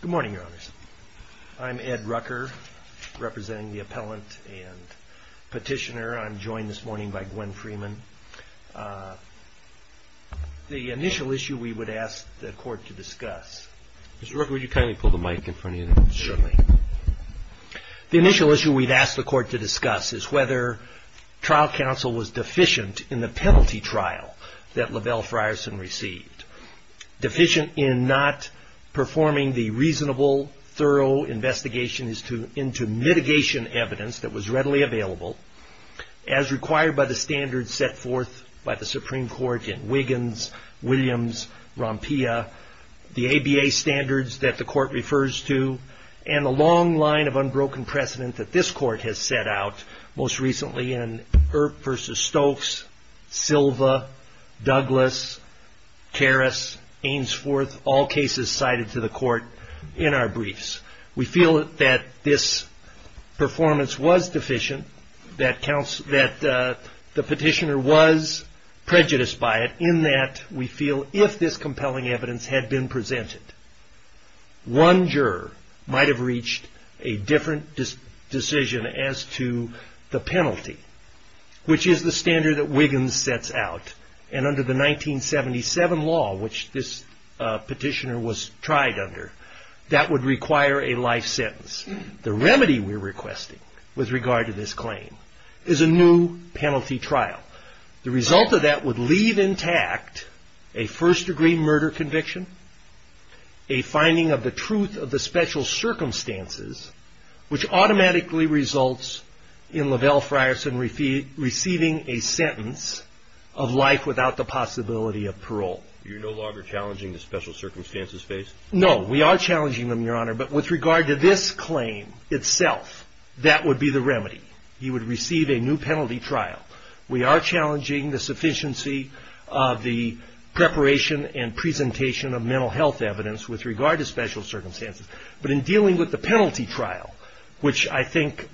Good morning, Your Honors. I'm Ed Rucker, representing the Appellant and Petitioner. I'm joined this morning by Gwen Freeman. The initial issue we would ask the Court to discuss is whether trial counsel was deficient in the penalty trial that LaBelle Frierson received. Deficient in not performing the reasonable, thorough investigation into mitigation evidence that was readily available, as required by the standards set forth by the Supreme Court in Wiggins, Williams, Rompia, the ABA standards that the Court refers to, and the long line of unbroken precedent that this Court has set out most recently in Earp v. Stokes, Silva, Douglas, Karras, Ainsworth, all cases cited to the Court in our briefs. We feel that this performance was deficient, that the Petitioner was prejudiced by it, in that we feel if this compelling evidence had been presented, one juror might have reached a different decision as to the penalty, which is the standard that Wiggins sets out. Under the 1977 law, which this Petitioner was tried under, that would require a life sentence. The remedy we're requesting with regard to this claim is a new penalty trial. The result of that would leave intact a first-degree murder conviction, a finding of the truth of the special circumstances, which automatically results in Lavelle Frierson receiving a sentence of life without the possibility of parole. You're no longer challenging the special circumstances case? No, we are challenging them, Your Honor, but with regard to this claim itself, that would be the remedy. He would receive a new penalty trial. We are challenging the sufficiency of the preparation and presentation of mental health evidence with regard to special circumstances, but in dealing with the penalty trial, which I think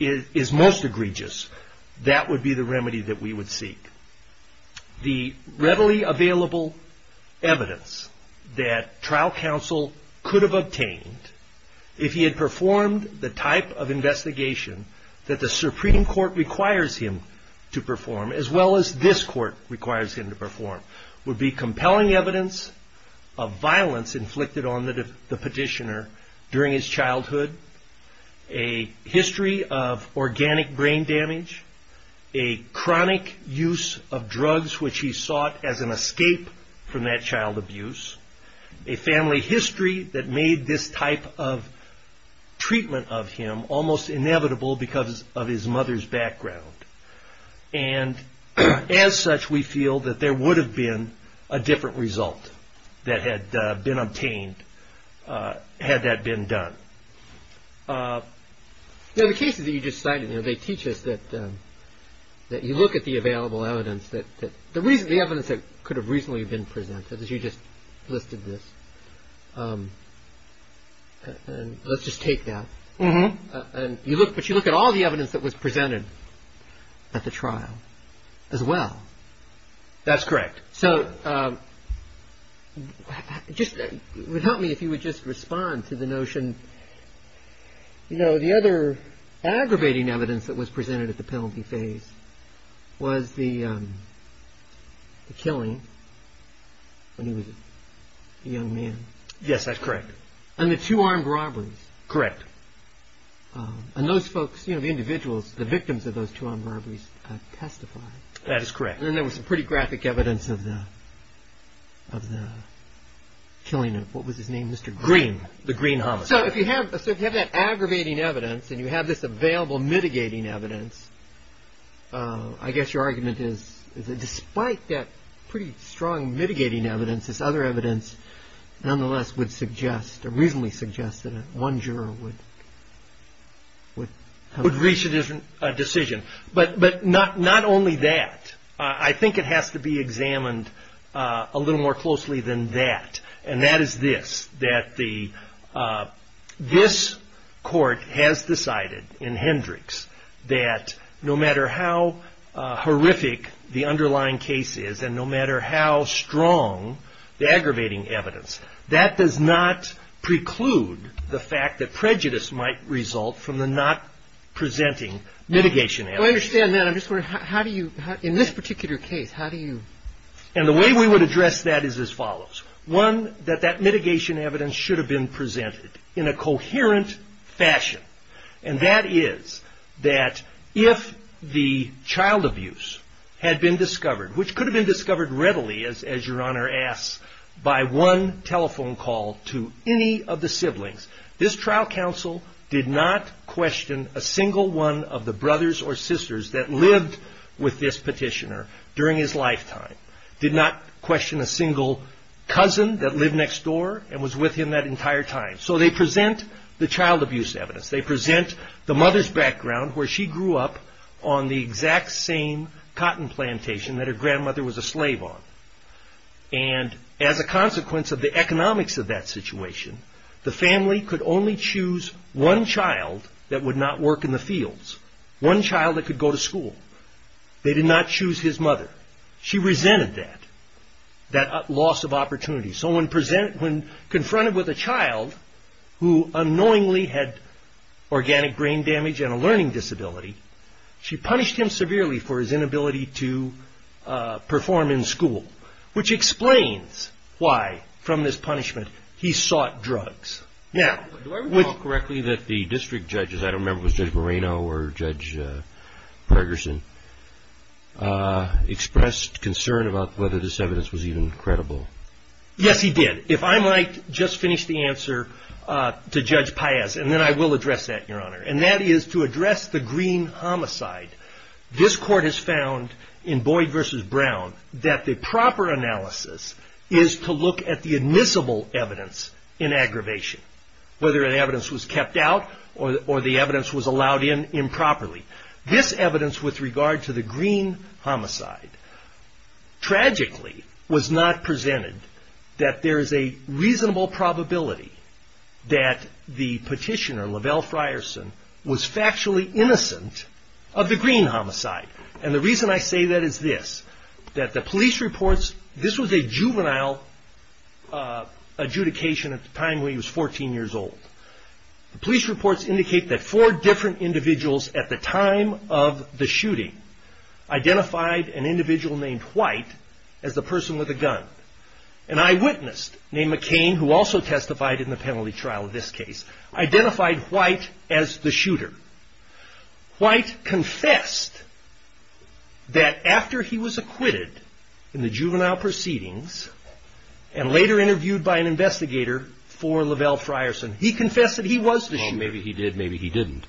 is most egregious, that would be the remedy that we would seek. The readily available evidence that trial counsel could have obtained if he had performed the type of investigation that the Supreme Court requires him to perform, as well as this Court requires him to perform, would be compelling evidence of violence inflicted on the petitioner during his childhood, a history of organic brain damage, a chronic use of drugs which he sought as an escape from that child abuse, a family history that made this type of treatment of him almost inevitable because of his mother's background. And as such, we feel that there would have been a different result that had been obtained had that been done. Now, the cases that you just cited, they teach us that you look at the available evidence that could have reasonably been presented, as you just listed this. Let's just take that. But you look at all the evidence that was presented at the trial, as well. That's correct. So it would help me if you would just respond to the notion, you know, the other aggravating evidence that was presented at the penalty phase was the killing when he was a young man. Yes, that's correct. And the two armed robberies. Correct. And those folks, you know, the individuals, the victims of those two armed robberies testified. That is correct. And then there was some pretty graphic evidence of the killing of, what was his name, Mr. Green, the Green homicide. So if you have that aggravating evidence and you have this available mitigating evidence, I guess your argument is that despite that pretty strong mitigating evidence, this other would reach a decision. But not only that, I think it has to be examined a little more closely than that. And that is this, that this court has decided in Hendricks that no matter how horrific the underlying case is and no matter how strong the aggravating evidence, that does not preclude the fact that prejudice might result from the not presenting mitigation evidence. I understand that. I'm just wondering, how do you, in this particular case, how do you? And the way we would address that is as follows. One, that that mitigation evidence should have been presented in a coherent fashion. And that is that if the child abuse had been to any of the siblings, this trial counsel did not question a single one of the brothers or sisters that lived with this petitioner during his lifetime, did not question a single cousin that lived next door and was with him that entire time. So they present the child abuse evidence. They present the mother's background where she grew up on the exact same cotton plantation that her grandmother was a slave on. And as a consequence of the economics of that situation, the family could only choose one child that would not work in the fields, one child that could go to school. They did not choose his mother. She resented that, that loss of opportunity. So when confronted with a child who unknowingly had organic brain damage and a learning disability, she punished him severely for his inability to perform in school, which explains why, from this punishment, he sought drugs. Now, do I recall correctly that the district judges, I don't remember if it was Judge Moreno or Judge Pergerson, expressed concern about whether this evidence was even credible? Yes, he did. If I might just finish the answer to Judge Paez, and then I will address that, and that is to address the Green Homicide. This court has found in Boyd v. Brown that the proper analysis is to look at the admissible evidence in aggravation, whether the evidence was kept out or the evidence was allowed in improperly. This evidence with regard to the Green Homicide tragically was not presented that there is a reasonable probability that the petitioner, Lavelle Frierson, was factually innocent of the Green Homicide. And the reason I say that is this, that the police reports, this was a juvenile adjudication at the time when he was 14 years old. The police reports indicate that four different individuals at the time of the shooting identified an individual named White as the person with the gun. An eyewitness named McCain, who also testified in the penalty trial in this case, identified White as the shooter. White confessed that after he was acquitted in the juvenile proceedings and later interviewed by an investigator for Lavelle Frierson, he confessed that he was the shooter. Maybe he did, maybe he didn't.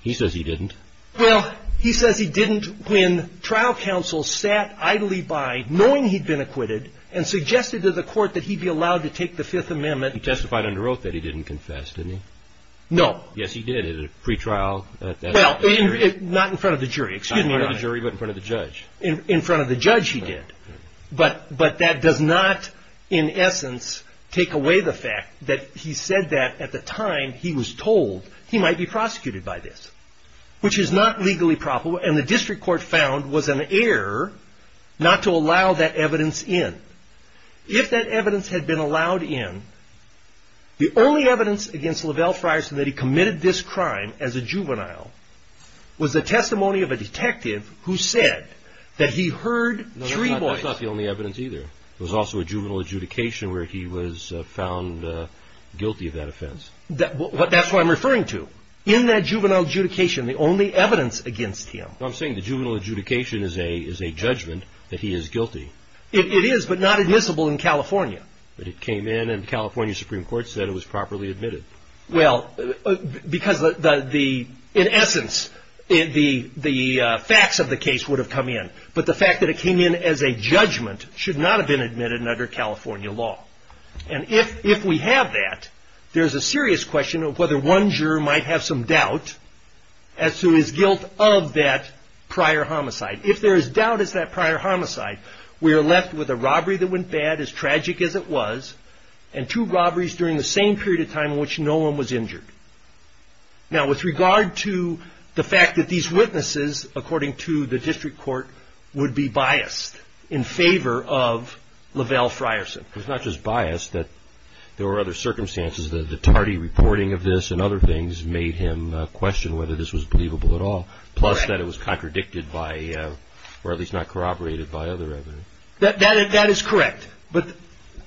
He says he didn't. Well, he says he didn't when trial counsel sat idly by knowing he'd been acquitted and suggested to the court that he'd be allowed to take the Fifth Amendment. He testified under oath that he didn't confess, didn't he? No. Yes, he did at a pre-trial at the jury. Not in front of the jury, excuse me, Your Honor. Not in front of the jury, but in front of the judge. In front of the judge he did. But that does not, in essence, take away the fact that he said that at the time he was told he might be prosecuted by this, which is not legally proper. And the district court found was an error not to allow that evidence in. If that evidence had been allowed in, the only evidence against Lavelle Frierson that he committed this crime as a juvenile was the testimony of a detective who said that he heard three voices. No, that's not the only evidence either. There was also a juvenile adjudication where he was found guilty of that offense. That's what I'm referring to. In that juvenile adjudication, the only evidence against him... I'm saying the juvenile adjudication is a judgment that he is guilty. It is, but not admissible in California. But it came in and California Supreme Court said it was properly admitted. Well, because in essence, the facts of the case would have come in. But the fact that it came in as a judgment should not have been admitted under California law. And if we have that, there's a serious question of whether one juror might have some doubt as to his guilt of that prior homicide. If there is doubt as to that prior homicide, we are left with a robbery that went bad, as tragic as it was, and two robberies during the same period of time in which no one was injured. Now with regard to the fact that these witnesses, according to the district court, would be biased in favor of LaVell Frierson. It's not just biased, there were other circumstances. The tardy reporting of this and other things made him question whether this was believable at all. Plus that it was contradicted by, or at least not corroborated by other evidence. That is correct. But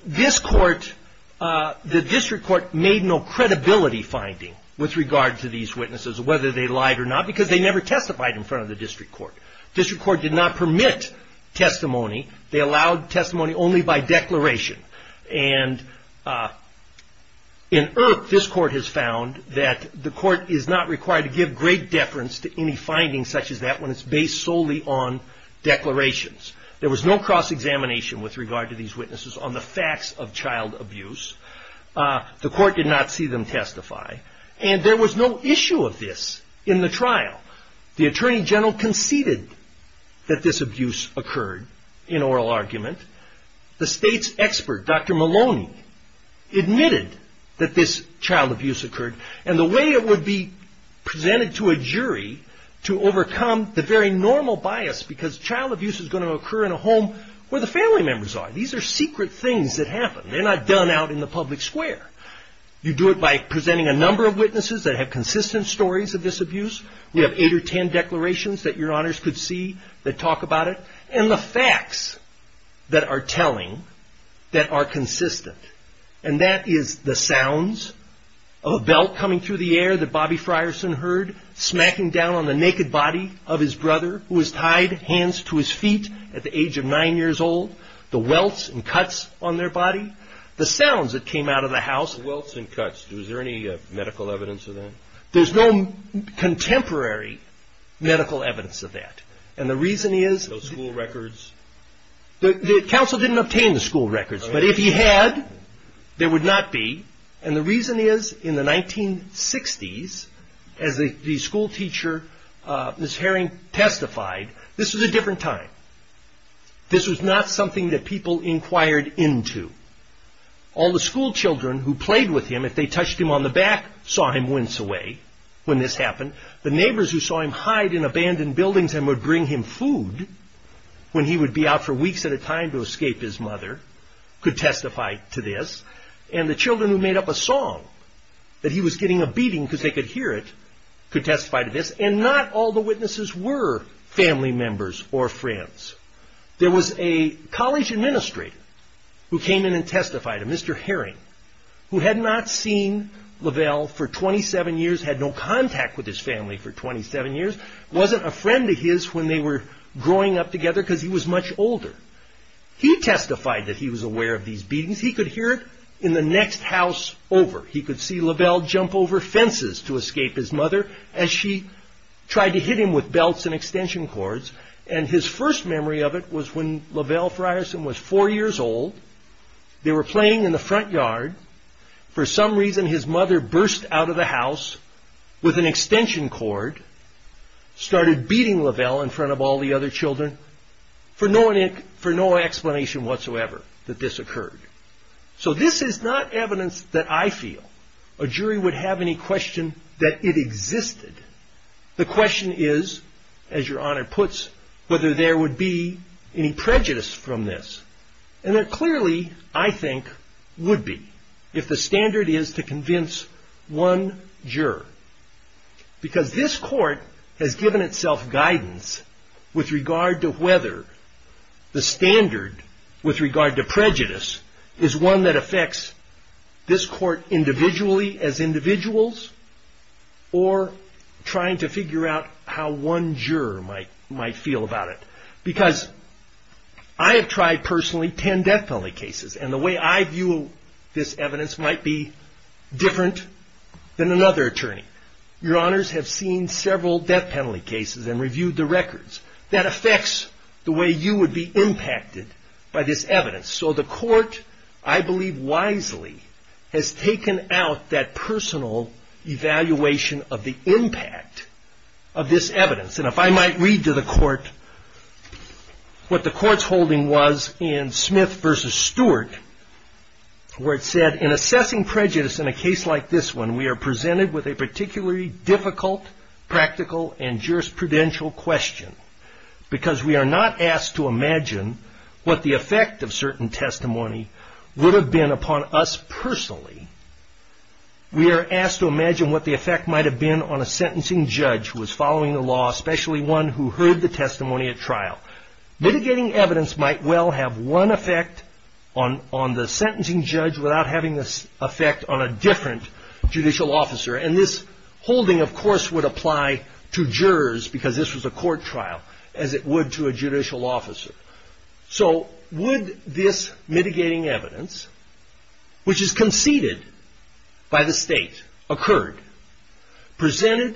this court, the district court, made no credibility finding with regard to these witnesses, whether they lied or not, because they never testified in front of the testimony. They allowed testimony only by declaration. And in IRC, this court has found that the court is not required to give great deference to any findings such as that when it's based solely on declarations. There was no cross-examination with regard to these witnesses on the facts of child abuse. The court did not see them testify. And there was no issue of this in the trial. The Attorney General conceded that this abuse occurred in oral argument. The state's expert, Dr. Maloney, admitted that this child abuse occurred. And the way it would be presented to a jury to overcome the very normal bias, because child abuse is going to occur in a home where the family members are. These are secret things that happen. They're not done out in the public square. You do it by presenting a number of witnesses that have consistent stories of this abuse. We have eight or ten declarations that your honors could see that talk about it. And the facts that are telling, that are consistent. And that is the sounds of a belt coming through the air that Bobby Frierson heard, smacking down on the naked body of his brother who was tied hands to his feet at the age of nine years old. The welts and cuts on their body. The sounds that came out of the house. The welts and cuts, was there any medical evidence of that? There's no contemporary medical evidence of that. And the reason is... No school records? The council didn't obtain the school records. But if he had, there would not be. And the reason is, in the 1960s, as the school teacher, Ms. Herring, testified, this was a different time. This was not something that people inquired into. All the school children who played with him, if they touched him on the back, saw him wince away when this happened. The neighbors who saw him hide in abandoned buildings and would bring him food when he would be out for weeks at a time to escape his mother, could testify to this. And the children who made up a song that he was getting a beating because they could hear it, could testify to this. And not all the witnesses were family members or friends. There was a college administrator who came in and testified, a Mr. Herring, who had not seen Lavelle for 27 years, had no contact with his family for 27 years, wasn't a friend of his when they were growing up together because he was much older. He testified that he was aware of these beatings. He could hear it in the next house over. He could see Lavelle jump over fences to escape his mother as she tried to hit him with belts and extension cords. And his first memory of it was when Lavelle Frierson was four years old. They were playing in the front yard. For some reason, his mother burst out of the house with an extension cord, started beating Lavelle in front of all the other children, for no explanation whatsoever that this occurred. So this is not evidence that I feel a jury would have any question that it existed. The question is, as Your Honor puts, whether there would be any prejudice from this. And clearly, I think, would be if the standard is to convince one juror. Because this court has given itself guidance with regard to whether the standard with regard to prejudice is one that affects this court individually as individuals or trying to figure out how one juror might feel about it. Because I have tried personally ten death penalty cases. And the way I view this evidence might be different than another attorney. Your Honors have seen several death penalty cases and reviewed the records. That affects the way you would be impacted by this evidence. So the court, I believe wisely, has taken out that personal evaluation of the impact of this evidence. And if I might read to the court what the court's holding was in Smith v. Stewart, where it said, in assessing prejudice in a case like this one, we are presented with a particularly difficult, practical, and jurisprudential question. Because we are not asked to imagine what the effect of certain testimony would have been upon us personally. We are asked to imagine what the effect might have been on a sentencing judge who was following the law, especially one who heard the testimony at trial. Mitigating evidence might well have one effect on the sentencing judge without having an effect on a different judicial officer. And this holding, of course, would apply to jurors, because this was a court trial, as it would to a judicial officer. So would this mitigating evidence, which is conceded by the state, occurred, presented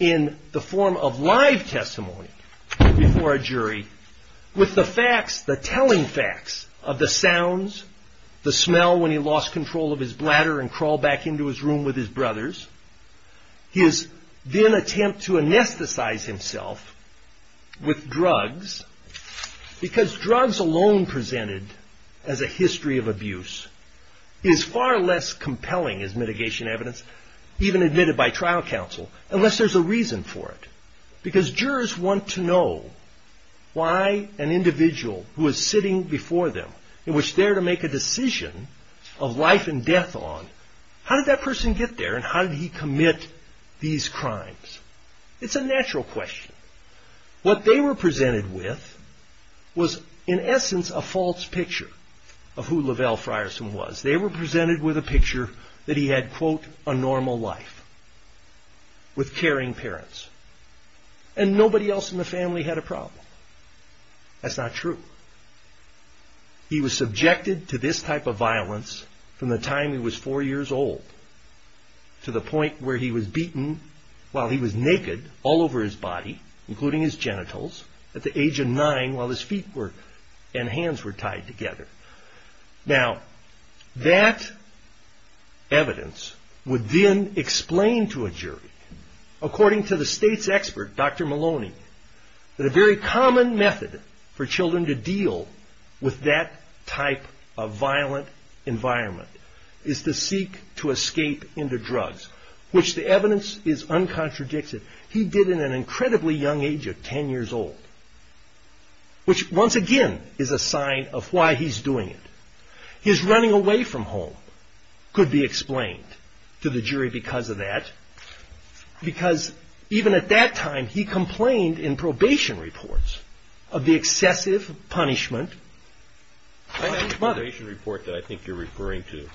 in the form of live testimony before a jury, with the facts, the telling facts of the sounds, the smell when he lost control of his bladder and crawled back into his room with his brothers, his then attempt to anesthetize himself with drugs, because drugs alone presented as a history of abuse, is far less compelling as mitigation evidence, even admitted by trial counsel, unless there's a reason for it. Because jurors want to know why an individual who is sitting before them, in which they are to make a decision of life and death on, how did that person get there and how did he commit these crimes? It's a natural question. What they were presented with was, in essence, a false picture of who Lavelle Frierson was. They were presented with a picture that he had, quote, a normal life, with caring parents, and nobody else in the family had a problem. That's not true. He was subjected to this at the age of four years old, to the point where he was beaten while he was naked all over his body, including his genitals, at the age of nine while his feet and hands were tied together. Now, that evidence would then explain to a jury, according to the state's expert, Dr. Maloney, that a very common method for children to deal with that type of violent environment is to seek to escape into drugs, which the evidence is uncontradicted. He did it at an incredibly young age of ten years old, which, once again, is a sign of why he's doing it. His running away from home could be explained to the jury because of that, because even at that time, he complained in probation reports of the excessive punishment of his mother. I have a probation report that I think you're referring to.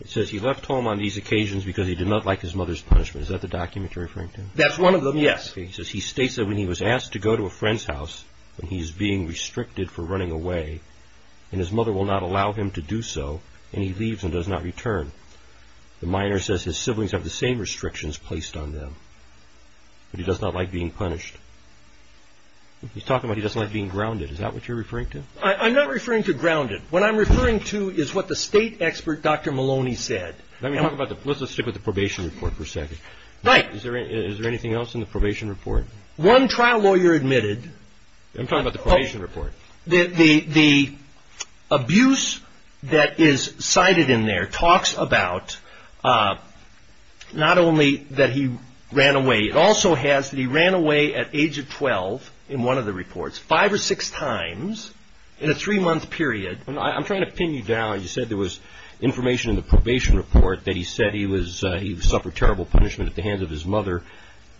It says he left home on these occasions because he did not like his mother's punishment. Is that the document you're referring to? That's one of them, yes. He says he states that when he was asked to go to a friend's house, when he's being restricted for running away, and his mother will not allow him to do so, and he leaves and does not return, the minor says his siblings have the same restrictions placed on them, but he does not like being punished. He's talking about he doesn't like being grounded. Is that what you're referring to? I'm not referring to grounded. What I'm referring to is what the state expert, Dr. Maloney, said. Let's just stick with the probation report for a second. Is there anything else in the probation report? One trial lawyer admitted... I'm talking about the probation report. The abuse that is cited in there talks about not only that he ran away. It also has that he ran away at age of 12 in one of the reports five or six times in a three-month period. I'm trying to pin you down. You said there was information in the probation report that he said he suffered terrible punishment at the hands of his mother.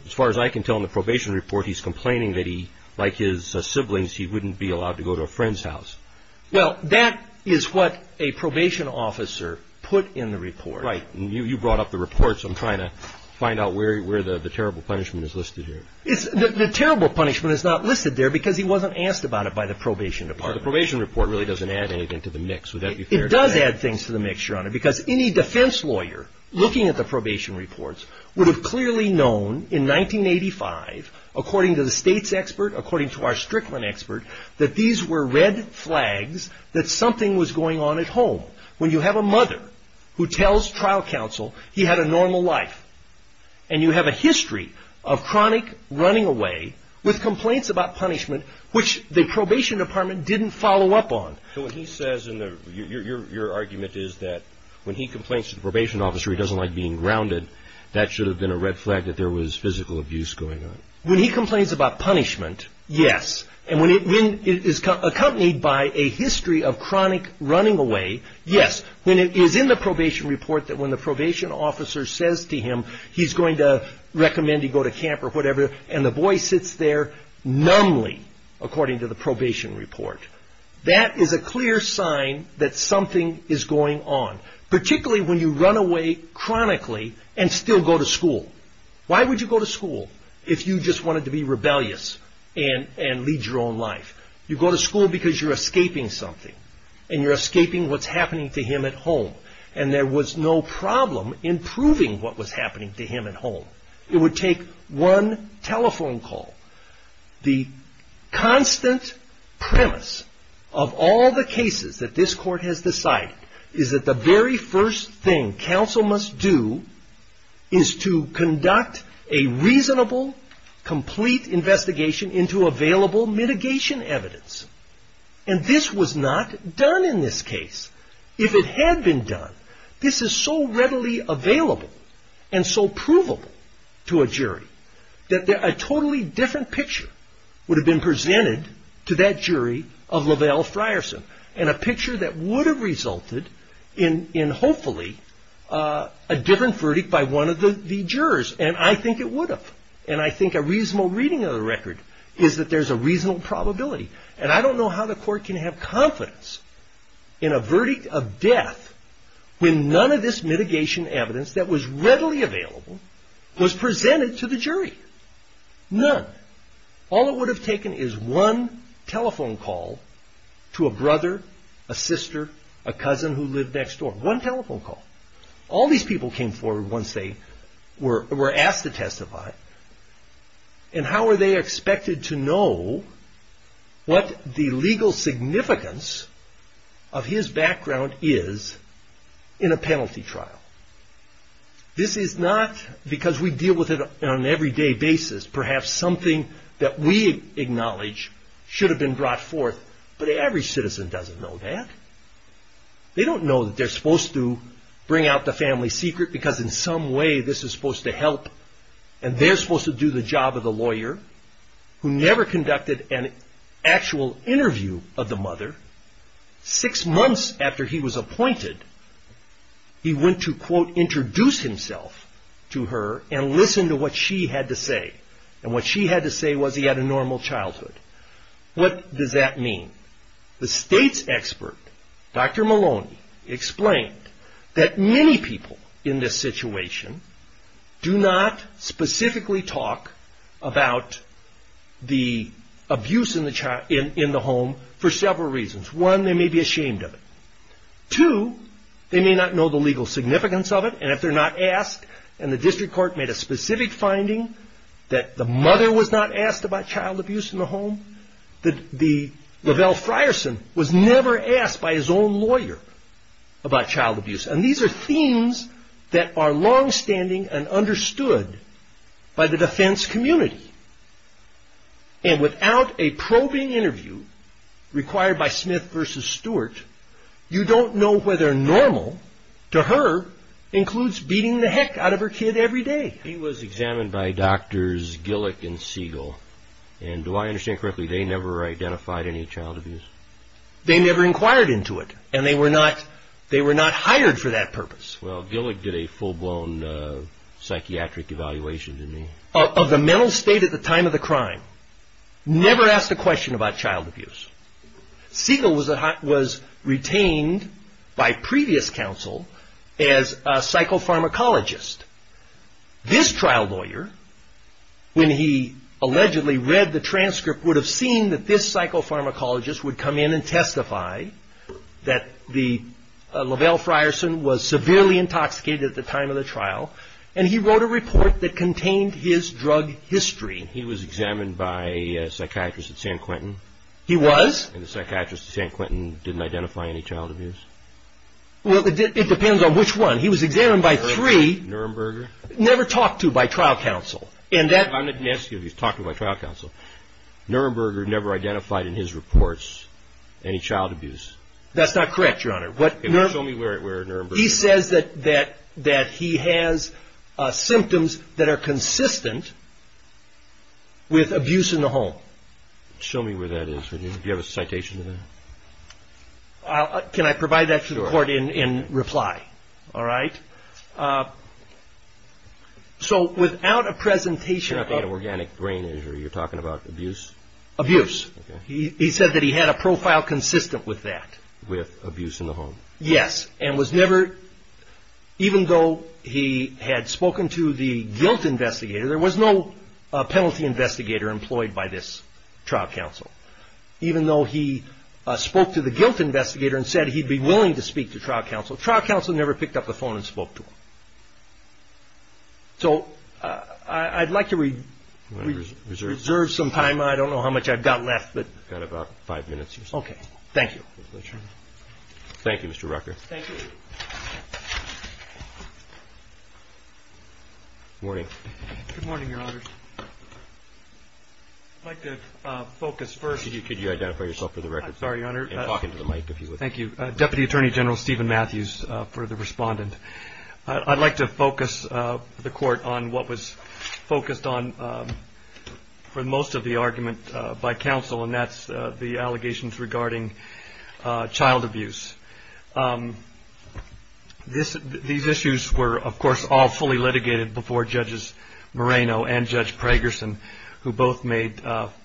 As far as I can tell in the probation report, he's complaining that he, like his siblings, he wouldn't be allowed to go to a friend's house. That is what a probation officer put in the report. You brought up the report, so I'm trying to find out where the terrible punishment is listed here. The terrible punishment is not listed there because he wasn't asked about it by the probation department. The probation report really doesn't add anything to the mix. Would that be fair to say? It does add things to the mix, Your Honor, because any defense lawyer looking at the state's expert, according to our Strickland expert, that these were red flags that something was going on at home. When you have a mother who tells trial counsel he had a normal life and you have a history of chronic running away with complaints about punishment, which the probation department didn't follow up on. So what he says in there, your argument is that when he complains to the probation officer he doesn't like being grounded, that should have been a red flag that there was physical abuse going on. When he complains about punishment, yes. And when it is accompanied by a history of chronic running away, yes. When it is in the probation report that when the probation officer says to him he's going to recommend he go to camp or whatever and the boy sits there numbly, according to the probation report, that is a clear sign that something is going on. Particularly when you run away chronically and still go to school. Why would you go to school if you just wanted to be rebellious and lead your own life? You go to school because you're escaping something and you're escaping what's happening to him at home and there was no problem in proving what was happening to him at home. It would take one telephone call. The constant premise of all the cases that this court has decided is that the very first thing counsel must do is to conduct a reasonable, complete investigation into available mitigation evidence. And this was not done in this case. If it had been done, this is so readily available and so provable to a jury that a totally different picture would have been presented to that jury, a different verdict by one of the jurors. And I think it would have. And I think a reasonable reading of the record is that there's a reasonable probability. And I don't know how the court can have confidence in a verdict of death when none of this mitigation evidence that was readily available was presented to the jury. None. All it would have taken is one telephone call to a brother, a sister, a cousin who lived next door. One telephone call. All these people came forward once they were asked to testify. And how are they expected to know what the legal significance of his background is in a penalty trial? This is not because we deal with it on an everyday basis. Perhaps something that we acknowledge should have been brought forth, but every citizen doesn't know that. They don't know that they're supposed to bring out the family secret because in some way this is supposed to help and they're supposed to do the job of the lawyer who never conducted an actual interview of the mother. Six months after he was appointed, he went to, quote, introduce himself to her and listen to what she had to say. And what she had to say was he had a normal childhood. What does that mean? The state's expert, Dr. Maloney, explained that many people in this situation do not specifically talk about the abuse in the home for several reasons. One, they may be ashamed of it. Two, they may not know the legal significance of it and if they're not asked and the district court made a specific finding that the mother was not asked about child abuse in the home, that LaVell Frierson was never asked by his own lawyer about child abuse. And these are themes that are longstanding and understood by the defense community. And without a probing interview required by Smith v. Stewart, you don't know whether normal to her includes beating the heck out of her kid every day. He was examined by Drs. Gillick and Siegel and, do I understand correctly, they never identified any child abuse? They never inquired into it and they were not hired for that purpose. Well, Gillick did a full-blown psychiatric evaluation. Of the mental state at the time of the crime, never asked a question about child abuse. Siegel was retained by previous counsel as a psychopharmacologist. This trial lawyer, when he allegedly read the transcript, would have seen that this psychopharmacologist would come in and testify that LaVell Frierson was severely intoxicated at the time of the trial and he wrote a report that contained his drug history. He was examined by a psychiatrist at San Quentin. He was? And the psychiatrist at San Quentin didn't identify any child abuse? Well, it depends on which one. He was examined by three. Nuremberger? Never talked to by trial counsel. I'm not asking if he was talked to by trial counsel. Nuremberger never identified in his reports any child abuse. That's not correct, Your Honor. Show me where Nuremberger is. He says that he has symptoms that are consistent with abuse in the home. Can I provide that to the court in reply? Sure. All right. So without a presentation... You're not talking about organic brain injury. You're talking about abuse? Abuse. He said that he had a profile consistent with that. With abuse in the home? Yes. And was never, even though he had spoken to the guilt investigator, there was no penalty by this trial counsel. Even though he spoke to the guilt investigator and said he'd be willing to speak to trial counsel, trial counsel never picked up the phone and spoke to him. So I'd like to reserve some time. I don't know how much I've got left, but... You've got about five minutes or so. Okay. Thank you. Thank you, Mr. Rucker. Thank you. Good morning, Your Honors. I'd like to focus first... Could you identify yourself for the record? I'm sorry, Your Honor. And talk into the mic if you would. Thank you. Deputy Attorney General Stephen Matthews for the respondent. I'd like to focus the court on what was focused on for most of the argument by counsel, and that's the allegations regarding child abuse. These issues were, of course, all fully litigated before Judges Moreno and Judge Pragerson, who both made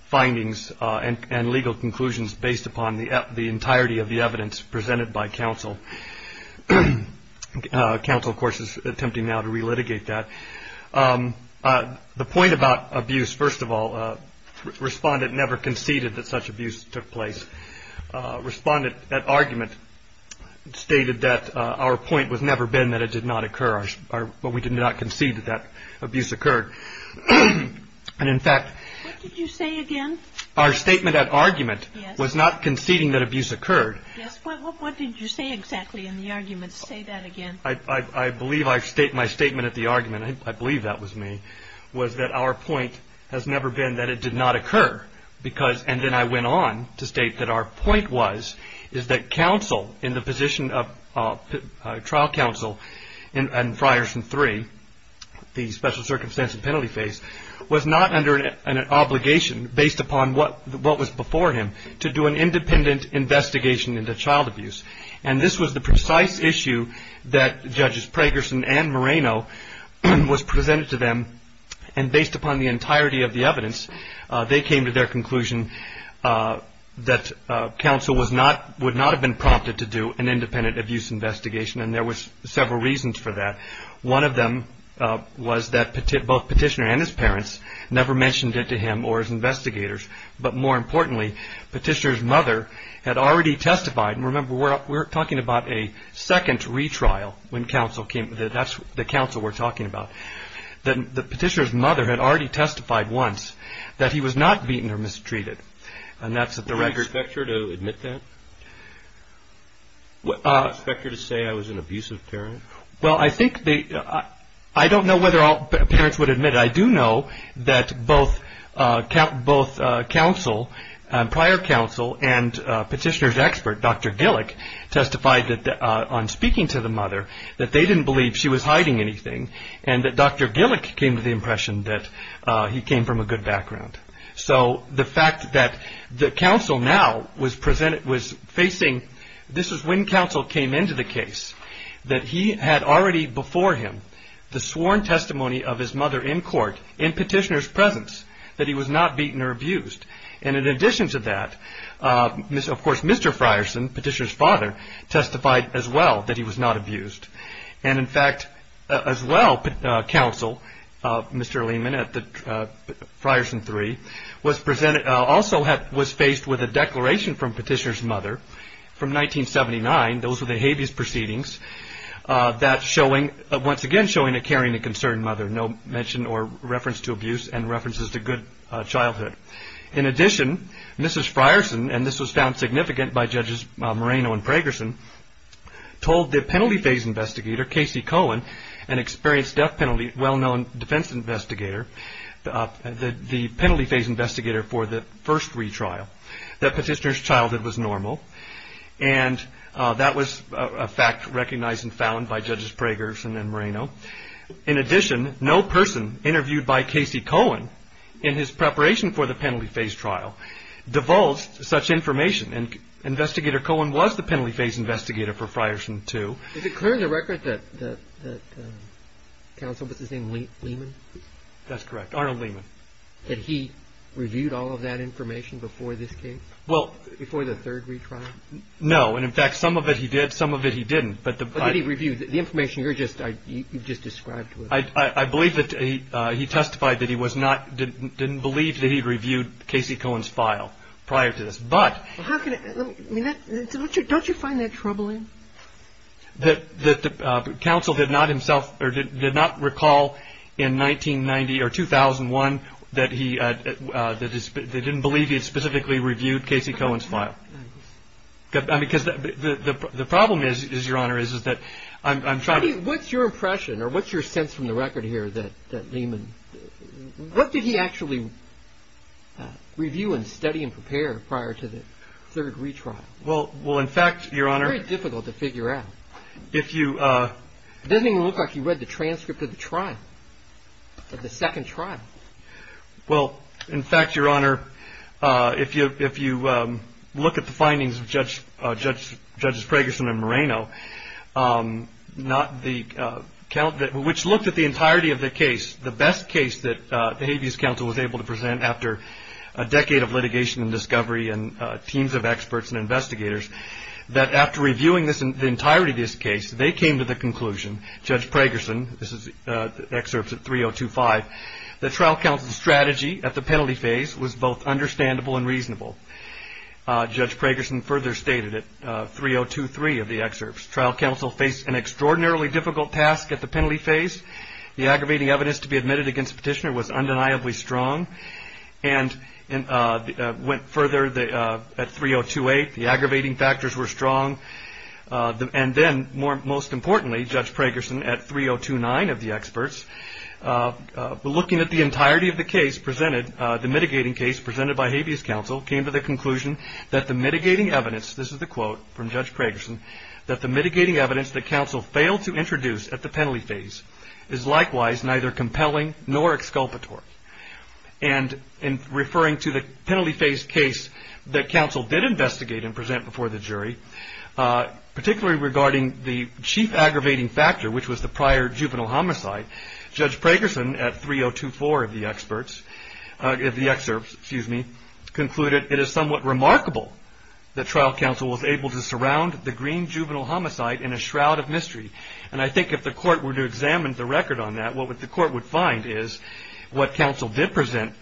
findings and legal conclusions based upon the entirety of the evidence presented by counsel. Counsel, of course, is attempting now to relitigate that. The point about abuse, first of all, the respondent never conceded that such abuse took place. The respondent at argument stated that our point was never been that it did not occur, or we did not concede that that abuse occurred. And in fact... What did you say again? Our statement at argument was not conceding that abuse occurred. Yes. What did you say exactly in the argument? Say that again. I believe my statement at the argument, I believe that was me, was that our point has never been that it did not occur, because... And then I went on to state that our point was, is that counsel in the position of trial counsel in Frierson 3, the special circumstance and penalty phase, was not under an obligation based upon what was before him to do an independent investigation into child abuse. And this was the precise issue that Judges Pragerson and Moreno was presented to them, and based upon the entirety of the counsel would not have been prompted to do an independent abuse investigation, and there was several reasons for that. One of them was that both Petitioner and his parents never mentioned it to him or his investigators. But more importantly, Petitioner's mother had already testified, and remember we're talking about a second retrial when counsel came, that's the counsel we're talking about. The Petitioner's mother had already testified once that he was not beaten or mistreated. And that's at the record... Would you expect her to admit that? Would you expect her to say I was an abusive parent? Well, I think they... I don't know whether parents would admit it. I do know that both counsel, prior counsel, and Petitioner's expert, Dr. Gillick, testified on speaking to the mother that they didn't believe she was hiding anything, and that Dr. Gillick came to the case from a good background. So the fact that the counsel now was facing... This is when counsel came into the case, that he had already before him the sworn testimony of his mother in court in Petitioner's presence that he was not beaten or abused. And in addition to that, of course, Mr. Frierson, Petitioner's father, testified as well that he was not presented... Also was faced with a declaration from Petitioner's mother from 1979, those were the habeas proceedings, that showing, once again showing a caring and concerned mother, no mention or reference to abuse and references to good childhood. In addition, Mrs. Frierson, and this was found significant by Judges Moreno and Pragerson, told the penalty phase investigator, Casey Cohen, an experienced death penalty well-known defense investigator, the penalty phase investigator for the first retrial, that Petitioner's childhood was normal, and that was a fact recognized and found by Judges Pragerson and Moreno. In addition, no person interviewed by Casey Cohen in his preparation for the penalty phase trial divulged such information, and Investigator Cohen was the penalty phase investigator for Frierson too. Is it clear in the record that counsel, what's his name, Lehman? That's correct, Arnold Lehman. Had he reviewed all of that information before this case? Well... Before the third retrial? No, and in fact, some of it he did, some of it he didn't. But did he review the information you just described to us? I believe that he testified that he was not, didn't believe that he reviewed Casey Cohen's file prior to this, but... Don't you find that troubling? That counsel did not himself, or did not recall in 1990 or 2001 that he, that he didn't believe he had specifically reviewed Casey Cohen's file. Because the problem is, Your Honor, is that I'm trying to... What's your impression, or what's your sense from the record here that Lehman, what did he actually review and study and prepare prior to the third retrial? Well, in fact, Your Honor... It's very difficult to figure out. If you... It doesn't even look like he read the transcript of the trial, of the second trial. Well, in fact, Your Honor, if you look at the findings of Judges Pragerson and Moreno, which looked at the entirety of the case, the best case that the Habeas Council was able to present after a decade of litigation and discovery and teams of experts and investigators, that after reviewing the entirety of this case, they came to the conclusion, Judge Pragerson, this is excerpts at 3025, that trial counsel's strategy at the penalty phase was both understandable and reasonable. Judge Pragerson further stated it, 3023 of the excerpts. Trial counsel faced an extraordinarily difficult task at the penalty phase. The aggravating evidence to be admitted against the petitioner was undeniably strong. And went further at 3028. The aggravating factors were strong. And then, most importantly, Judge Pragerson, at 3029 of the experts, looking at the entirety of the case presented, the mitigating case presented by Habeas Council, came to the conclusion that the mitigating evidence, this is the quote from Judge Pragerson, that the mitigating evidence that counsel failed to introduce at the penalty phase is likewise neither compelling nor exculpatory. And in referring to the penalty phase case that counsel did investigate and present before the jury, particularly regarding the chief aggravating factor, which was the prior juvenile homicide, Judge Pragerson, at 3024 of the experts, of the excerpts, excuse me, concluded it is somewhat remarkable that trial counsel was able to surround the Green juvenile homicide in a shroud of mystery. And I think if the court were to examine the record on that, what the court would find is, what counsel did present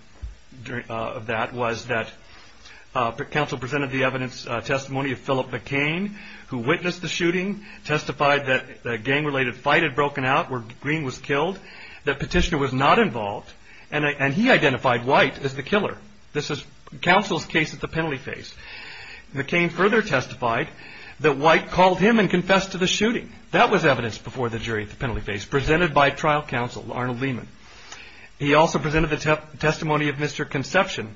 of that was that counsel presented the evidence, testimony of Philip McCain, who witnessed the shooting, testified that a gang-related fight had broken out where Green was killed, that Petitioner was not involved, and he identified White as the killer. This is counsel's case at the penalty phase. McCain further testified that White called him and confessed to the shooting. That was evidence before the jury at the penalty phase, presented by trial counsel, Arnold Lehman. He also presented the testimony of Mr. Conception,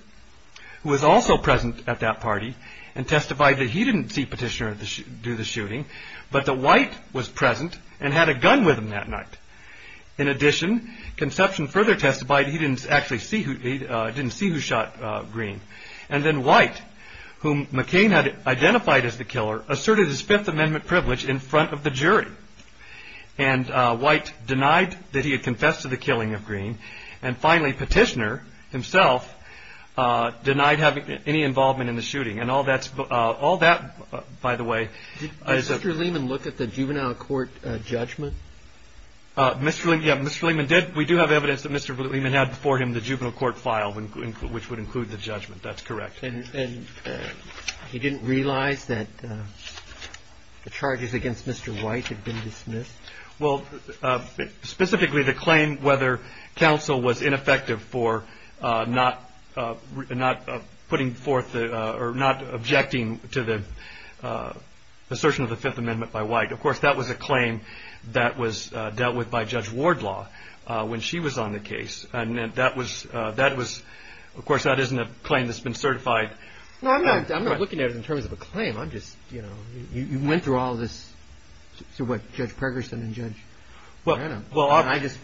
who was also present at that party, and testified that he didn't see Petitioner do the shooting, but that White was present and had a gun with him that night. In addition, Conception further testified he didn't actually see who shot Green. And then White, whom McCain had identified as the killer, asserted his Fifth Amendment privilege in front of the jury. And White denied that he had confessed to the killing of Green. And finally, Petitioner himself denied having any involvement in the shooting. And all that, by the way- Did Mr. Lehman look at the juvenile court judgment? Yeah, Mr. Lehman did. We do have evidence that Mr. Lehman had before him the juvenile court file, which would include the judgment. That's correct. And he didn't realize that the charges against Mr. White had been dismissed? Well, specifically the claim whether counsel was ineffective for not putting forth or not objecting to the assertion of the Fifth Amendment by White. Of course, that was a claim that was dealt with by Judge Wardlaw when she was on the case. And that was- of course, that isn't a claim that's been certified. No, I'm not looking at it in terms of a claim. I'm just, you know, you went through all this, through what, Judge Pregerson and Judge Brenham. And I just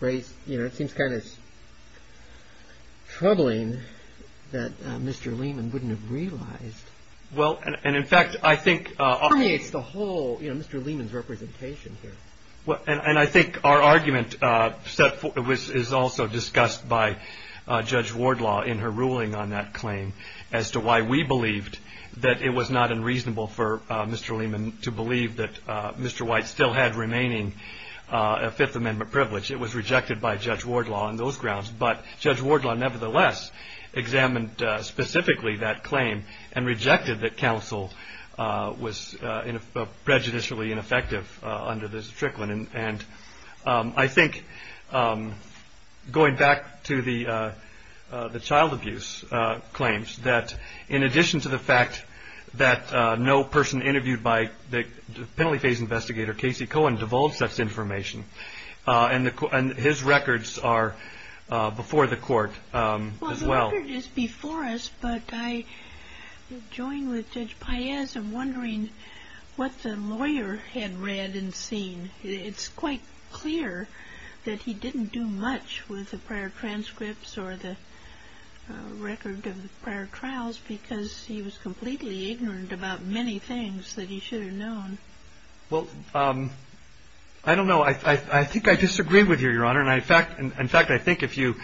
raised, you know, it seems kind of troubling that Mr. Lehman wouldn't have realized. Well, and in fact, I think- It permeates the whole, you know, Mr. Lehman's representation here. And I think our argument is also discussed by Judge Wardlaw in her ruling on that claim, as to why we believed that it was not unreasonable for Mr. Lehman to believe that Mr. White still had remaining Fifth Amendment privilege. It was rejected by Judge Wardlaw on those grounds. But Judge Wardlaw, nevertheless, examined specifically that claim and rejected that counsel was prejudicially ineffective under this trickling. And I think going back to the child abuse claims, that in addition to the fact that no person interviewed by the penalty phase investigator, Casey Cohen, divulged such information. And his records are before the court as well. Well, the record is before us, but I join with Judge Paez in wondering what the lawyer had read and seen. It's quite clear that he didn't do much with the prior transcripts or the record of the prior trials, because he was completely ignorant about many things that he should have known. Well, I don't know. I think I disagree with you, Your Honor. In fact, I think if you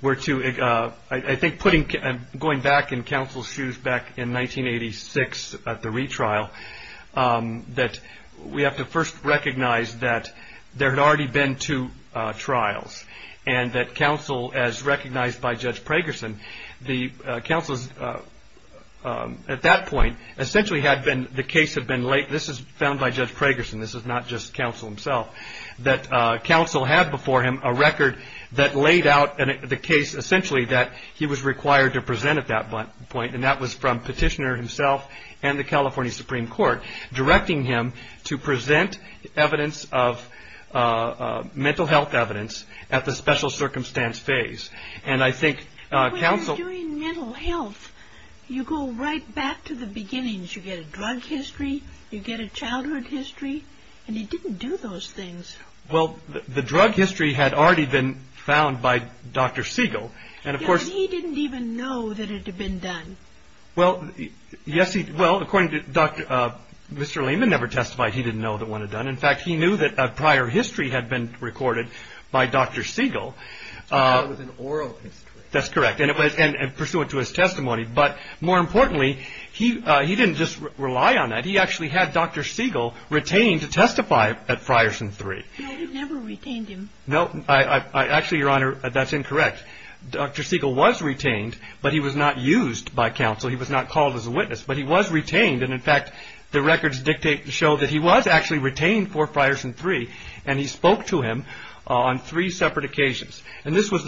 were to, I think going back in counsel's shoes back in 1986 at the retrial, that we have to first recognize that there had already been two trials and that counsel, as recognized by Judge Pragerson, the counsel at that point essentially had been, the case had been laid. This is found by Judge Pragerson. This is not just counsel himself. That counsel had before him a record that laid out the case essentially that he was required to present at that point, and that was from petitioner himself and the California Supreme Court directing him to present evidence of mental health evidence at the special circumstance phase. But when you're doing mental health, you go right back to the beginnings. You get a drug history. You get a childhood history, and he didn't do those things. Well, the drug history had already been found by Dr. Siegel. Yes, he didn't even know that it had been done. Well, according to Mr. Lehman, never testified he didn't know that one had done. In fact, he knew that a prior history had been recorded by Dr. Siegel. So it was an oral history. That's correct, and pursuant to his testimony. But more importantly, he didn't just rely on that. He actually had Dr. Siegel retained to testify at Frierson III. No, he never retained him. No, actually, Your Honor, that's incorrect. Dr. Siegel was retained, but he was not used by counsel. He was not called as a witness, but he was retained. And, in fact, the records show that he was actually retained for Frierson III, and he spoke to him on three separate occasions. And this was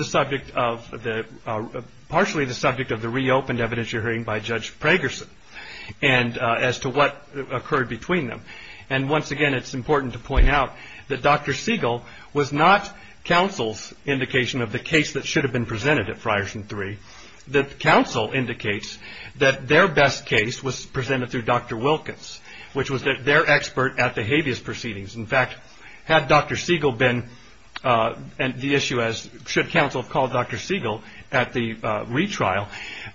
partially the subject of the reopened evidence you're hearing by Judge Pragerson as to what occurred between them. And once again, it's important to point out that Dr. Siegel was not counsel's indication of the case that should have been presented at Frierson III. The counsel indicates that their best case was presented through Dr. Wilkins, which was their expert at the habeas proceedings. In fact, had Dr. Siegel been the issue as should counsel have called Dr. Siegel at the retrial,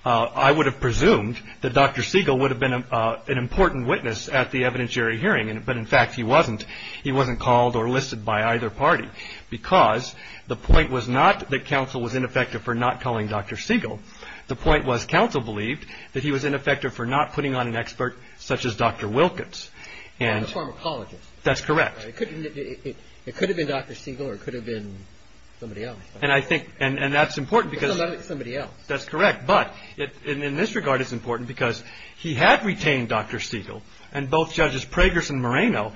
I would have presumed that Dr. Siegel would have been an important witness at the evidentiary hearing. But, in fact, he wasn't. He wasn't called or listed by either party, because the point was not that counsel was ineffective for not calling Dr. Siegel. The point was counsel believed that he was ineffective for not putting on an expert such as Dr. Wilkins. And the pharmacologist. That's correct. It could have been Dr. Siegel or it could have been somebody else. And I think that's important because. Somebody else. That's correct. But in this regard it's important because he had retained Dr. Siegel, And both judges Pragerson and Moreno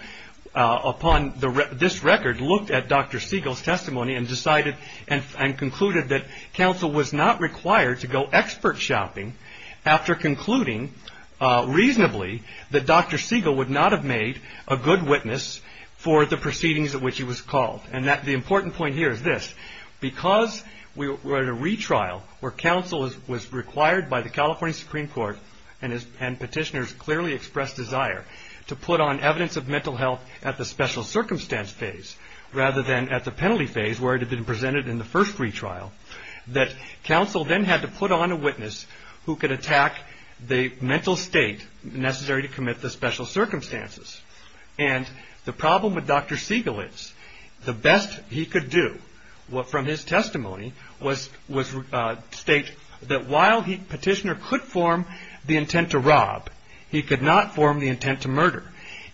upon this record looked at Dr. Siegel's testimony and concluded that counsel was not required to go expert shopping after concluding reasonably that Dr. Siegel would not have made a good witness for the proceedings at which he was called. And the important point here is this. Because we were at a retrial where counsel was required by the California Supreme Court and petitioners clearly expressed desire to put on evidence of mental health at the special circumstance phase, rather than at the penalty phase where it had been presented in the first retrial, that counsel then had to put on a witness who could attack the mental state necessary to commit the special circumstances. And the problem with Dr. Siegel is the best he could do from his testimony was state that while petitioner could form the intent to rob, he could not form the intent to murder.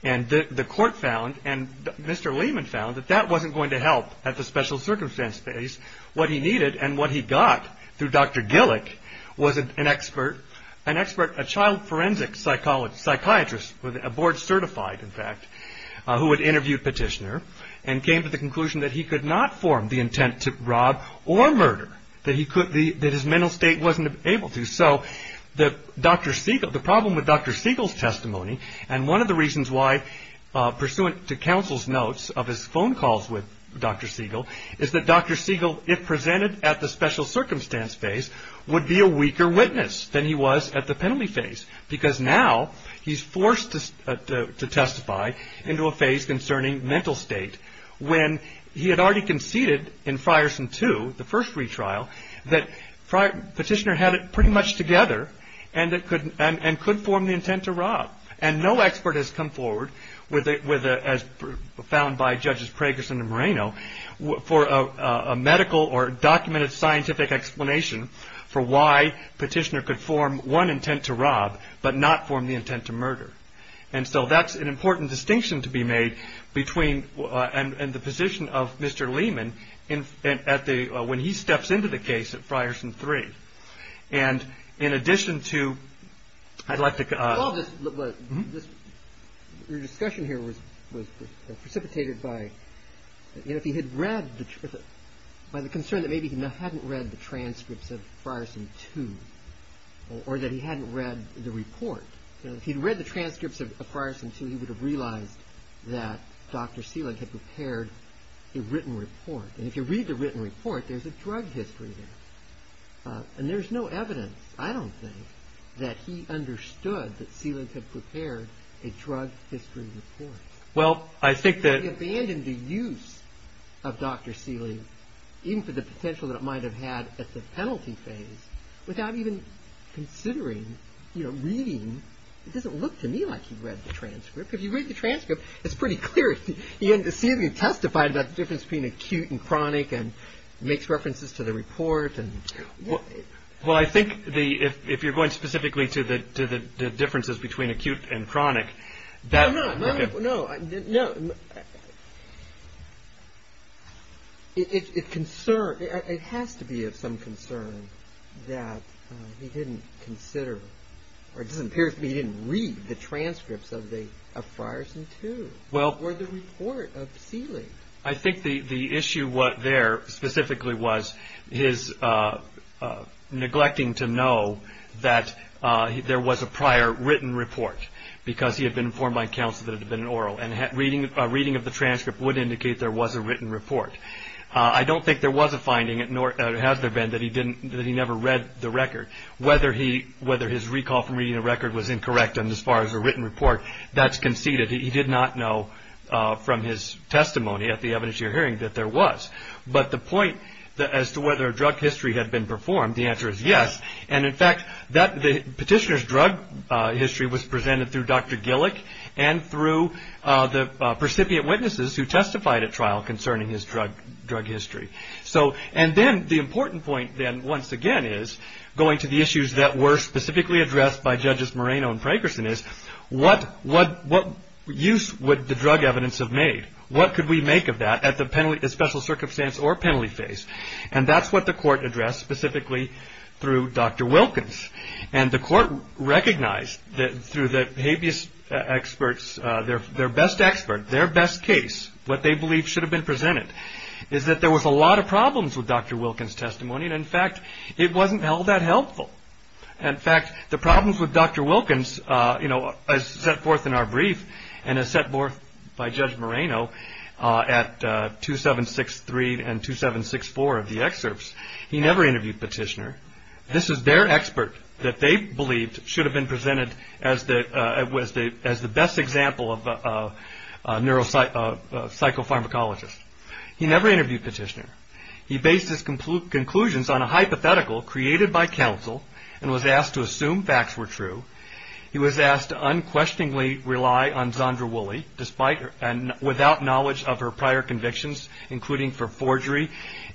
And the court found and Mr. Lehman found that that wasn't going to help at the special circumstance phase. What he needed and what he got through Dr. Gillick was an expert, a child forensic psychiatrist, a board certified in fact, who had interviewed petitioner and came to the conclusion that he could not form the intent to rob or murder, that his mental state wasn't able to. So the problem with Dr. Siegel's testimony and one of the reasons why, pursuant to counsel's notes of his phone calls with Dr. Siegel, is that Dr. Siegel if presented at the special circumstance phase would be a weaker witness than he was at the penalty phase. Because now he's forced to testify into a phase concerning mental state when he had already conceded in Frierson 2, the first retrial, that petitioner had it pretty much together and could form the intent to rob. And no expert has come forward, as found by Judges Pragerson and Moreno, for a medical or documented scientific explanation for why petitioner could form one intent to rob, but not form the intent to murder. And so that's an important distinction to be made between and the position of Mr. Lehman when he steps into the case at Frierson 3. Your discussion here was precipitated by the concern that maybe he hadn't read the transcripts of Frierson 2, or that he hadn't read the report. If he'd read the transcripts of Frierson 2, he would have realized that Dr. Siegel had prepared a written report. And if you read the written report, there's a drug history there. And there's no evidence, I don't think, that he understood that Siegel had prepared a drug history report. He abandoned the use of Dr. Siegel, even for the potential that it might have had at the penalty phase, without even considering reading. It doesn't look to me like he read the transcript. If you read the transcript, it's pretty clear. Siegel testified about the difference between acute and chronic and makes references to the report. Well, I think if you're going specifically to the differences between acute and chronic... No, no. It has to be of some concern that he didn't consider, or it just appears to me he didn't read the transcripts of Frierson 2, or the report of Siegel. I think the issue there specifically was his neglecting to know that there was a prior written report, because he had been informed by counsel that it had been oral. And reading of the transcript would indicate there was a written report. I don't think there was a finding, nor has there been, that he never read the record. Whether his recall from reading the record was incorrect as far as a written report, that's conceded. He did not know from his testimony at the evidence you're hearing that there was. But the point as to whether drug history had been performed, the answer is yes. And, in fact, the petitioner's drug history was presented through Dr. Gillick and through the recipient witnesses who testified at trial concerning his drug history. So, and then the important point then, once again, is going to the issues that were specifically addressed by judges Moreno and Frierson is, what use would the drug evidence have made? What could we make of that at the special circumstance or penalty phase? And that's what the court addressed specifically through Dr. Wilkins. And the court recognized that through the habeas experts, their best expert, their best case, what they believed should have been presented is that there was a lot of problems with Dr. Wilkins' testimony. And, in fact, it wasn't held that helpful. In fact, the problems with Dr. Wilkins, you know, as set forth in our brief and as set forth by Judge Moreno at 2763 and 2764 of the excerpts, he never interviewed Petitioner. This is their expert that they believed should have been presented as the best example of a psychopharmacologist. He never interviewed Petitioner. He based his conclusions on a hypothetical created by counsel and was asked to assume facts were true. He was asked to unquestioningly rely on Zandra Woolley without knowledge of her prior convictions, including for forgery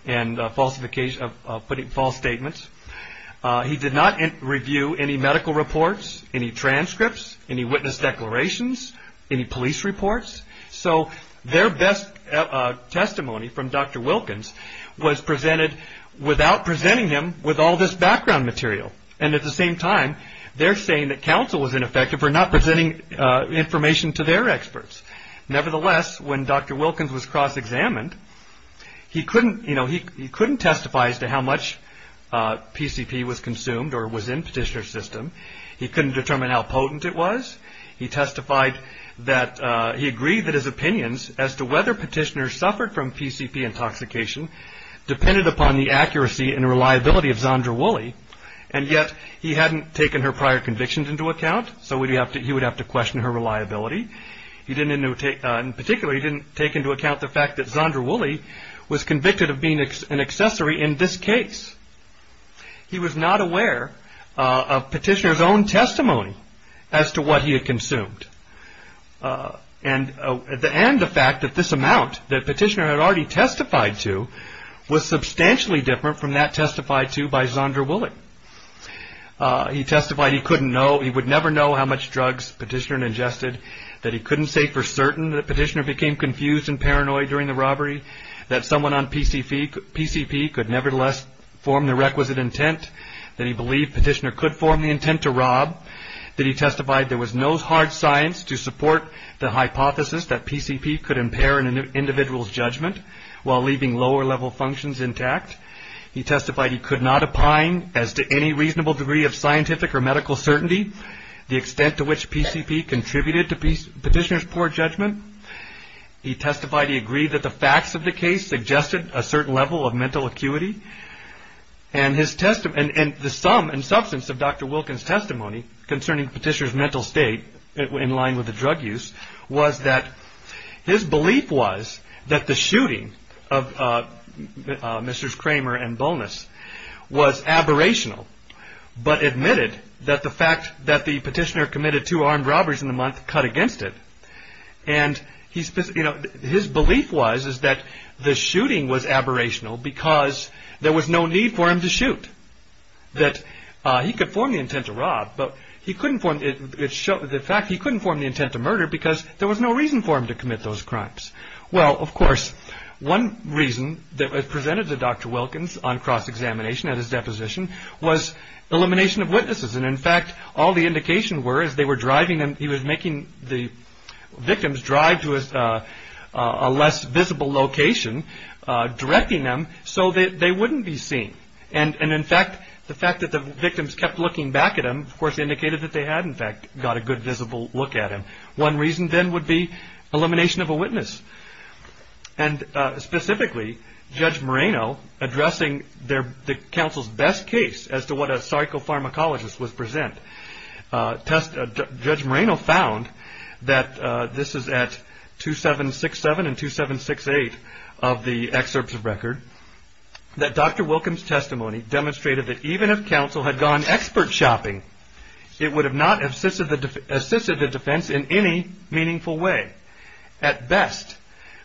and false statements. He did not review any medical reports, any transcripts, any witness declarations, any police reports. So their best testimony from Dr. Wilkins was presented without presenting him with all this background material. And at the same time, they're saying that counsel was ineffective for not presenting information to their experts. Nevertheless, when Dr. Wilkins was cross-examined, he couldn't, you know, he couldn't testify as to how much PCP was consumed or was in Petitioner's system. He couldn't determine how potent it was. He testified that he agreed that his opinions as to whether Petitioner suffered from PCP intoxication depended upon the accuracy and reliability of Zandra Woolley. And yet he hadn't taken her prior convictions into account. So he would have to question her reliability. In particular, he didn't take into account the fact that Zandra Woolley was convicted of being an accessory in this case. He was not aware of Petitioner's own testimony as to what he had consumed. And the fact that this amount that Petitioner had already testified to was substantially different from that testified to by Zandra Woolley. He testified he couldn't know, he would never know how much drugs Petitioner ingested, that he couldn't say for certain that Petitioner became confused and paranoid during the robbery, that someone on PCP could nevertheless form the requisite intent, that he believed Petitioner could form the intent to rob, that he testified there was no hard science to support the hypothesis that PCP could impair an individual's judgment while leaving lower-level functions intact. He testified he could not opine as to any reasonable degree of scientific or medical certainty the extent to which PCP contributed to Petitioner's poor judgment. He testified he agreed that the facts of the case suggested a certain level of mental acuity. And the sum and substance of Dr. Wilkins' testimony concerning Petitioner's mental state in line with the drug use was that his belief was that the shooting of Mr. Kramer and Bonas was aberrational, but admitted that the fact that the Petitioner committed two armed robberies in the month cut against it. And his belief was that the shooting was aberrational because there was no need for him to shoot, that he could form the intent to rob, but the fact he couldn't form the intent to murder because there was no reason for him to commit those crimes. Well, of course, one reason that was presented to Dr. Wilkins on cross-examination at his deposition was elimination of witnesses. And, in fact, all the indications were that he was making the victims drive to a less visible location, directing them so that they wouldn't be seen. And, in fact, the fact that the victims kept looking back at him, of course, indicated that they had, in fact, got a good visible look at him. And, specifically, Judge Moreno, addressing the counsel's best case as to what a psychopharmacologist would present, Judge Moreno found that, this is at 2767 and 2768 of the excerpts of record, that Dr. Wilkins' testimony demonstrated that even if counsel had gone expert shopping, it would have not assisted the defense in any meaningful way. At best,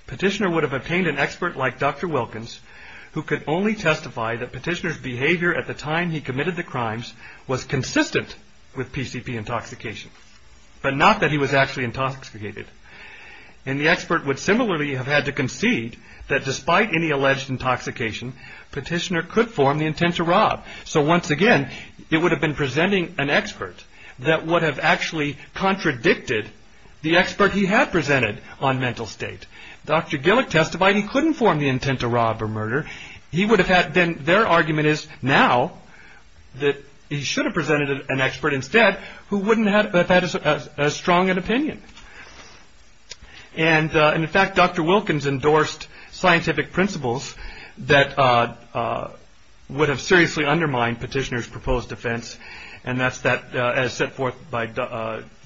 Petitioner would have obtained an expert like Dr. Wilkins, who could only testify that Petitioner's behavior at the time he committed the crimes was consistent with PCP intoxication, but not that he was actually intoxicated. And the expert would similarly have had to concede that, despite any alleged intoxication, So, once again, it would have been presenting an expert that would have actually contradicted the expert he had presented on mental state. Dr. Gillick testified he couldn't form the intent to rob or murder. He would have had been, their argument is now, that he should have presented an expert instead, who wouldn't have had as strong an opinion. And, in fact, Dr. Wilkins endorsed scientific principles that would have seriously undermined Petitioner's proposed defense, and that's that, as set forth by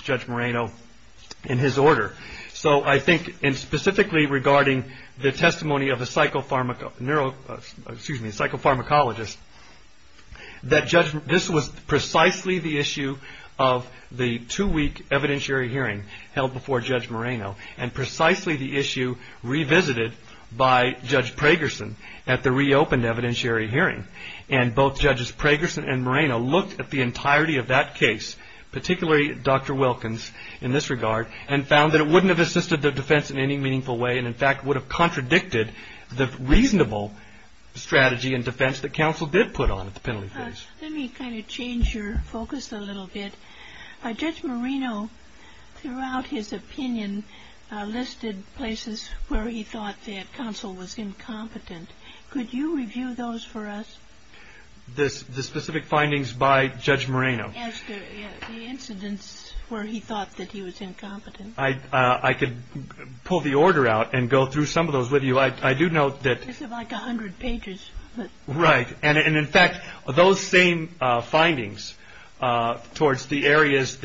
Judge Moreno in his order. So, I think, and specifically regarding the testimony of a psychopharmacologist, that this was precisely the issue of the two-week evidentiary hearing held before Judge Moreno, and precisely the issue revisited by Judge Pragerson at the reopened evidentiary hearing. And both Judges Pragerson and Moreno looked at the entirety of that case, particularly Dr. Wilkins in this regard, and found that it wouldn't have assisted the defense in any meaningful way, and, in fact, would have contradicted the reasonable strategy and defense that counsel did put on at the penalty phase. Let me kind of change your focus a little bit. Judge Moreno, throughout his opinion, listed places where he thought that counsel was incompetent. Could you review those for us? The specific findings by Judge Moreno? Yes, the incidents where he thought that he was incompetent. I could pull the order out and go through some of those with you. I do note that... This is like a hundred pages. Right, and, in fact, those same findings towards the areas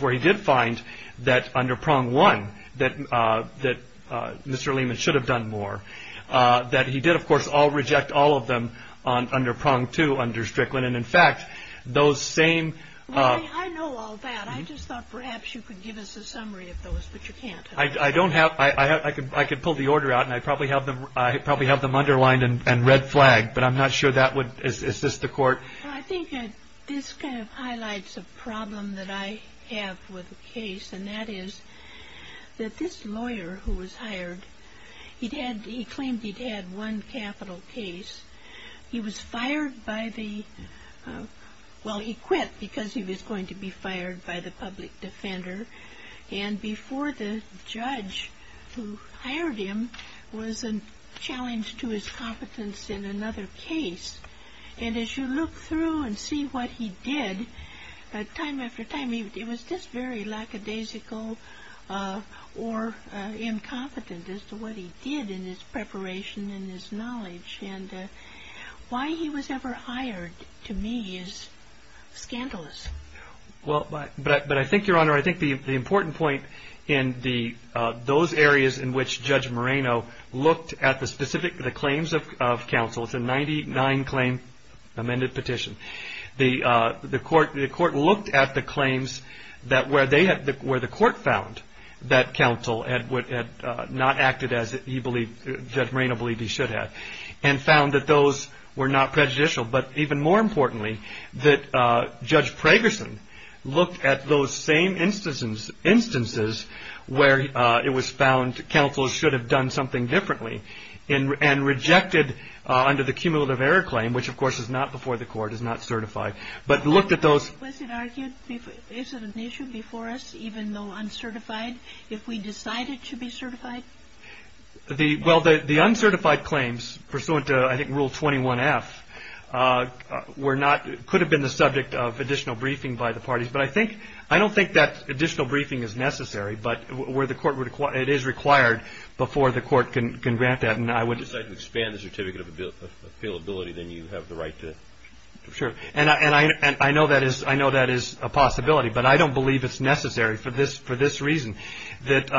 where he did find that, under prong one, that Mr. Lehman should have done more, that he did, of course, all reject all of them under prong two, under Strickland, and, in fact, those same... Well, I know all that. I just thought perhaps you could give us a summary of those, but you can't. I don't have... I could pull the order out, and I probably have them underlined and red flagged, but I'm not sure that would assist the court. I think this kind of highlights a problem that I have with the case, and that is that this lawyer who was hired, he claimed he'd had one capital case. He was fired by the... Well, he quit because he was going to be fired by the public defender, and before the judge who hired him was challenged to his competence in another case, and as you look through and see what he did, time after time it was just very lackadaisical or incompetent Why he was ever hired, to me, is scandalous. Well, but I think, Your Honor, I think the important point in those areas in which Judge Moreno looked at the specific claims of counsel, it's a 99-claim amended petition, the court looked at the claims where the court found that counsel had not acted as he believed, Judge Moreno believed he should have, and found that those were not prejudicial, but even more importantly, that Judge Pragerson looked at those same instances where it was found counsel should have done something differently and rejected under the cumulative error claim, which of course is not before the court, is not certified, but looked at those... Was it argued, is it an issue before us, even though uncertified, if we decided to be certified? Well, the uncertified claims, pursuant to, I think, Rule 21-F, could have been the subject of additional briefing by the parties, but I don't think that additional briefing is necessary, but it is required before the court can grant that, and I would... If you decide to expand the certificate of availability, then you have the right to... Sure, and I know that is a possibility, but I don't believe it's necessary for this reason, that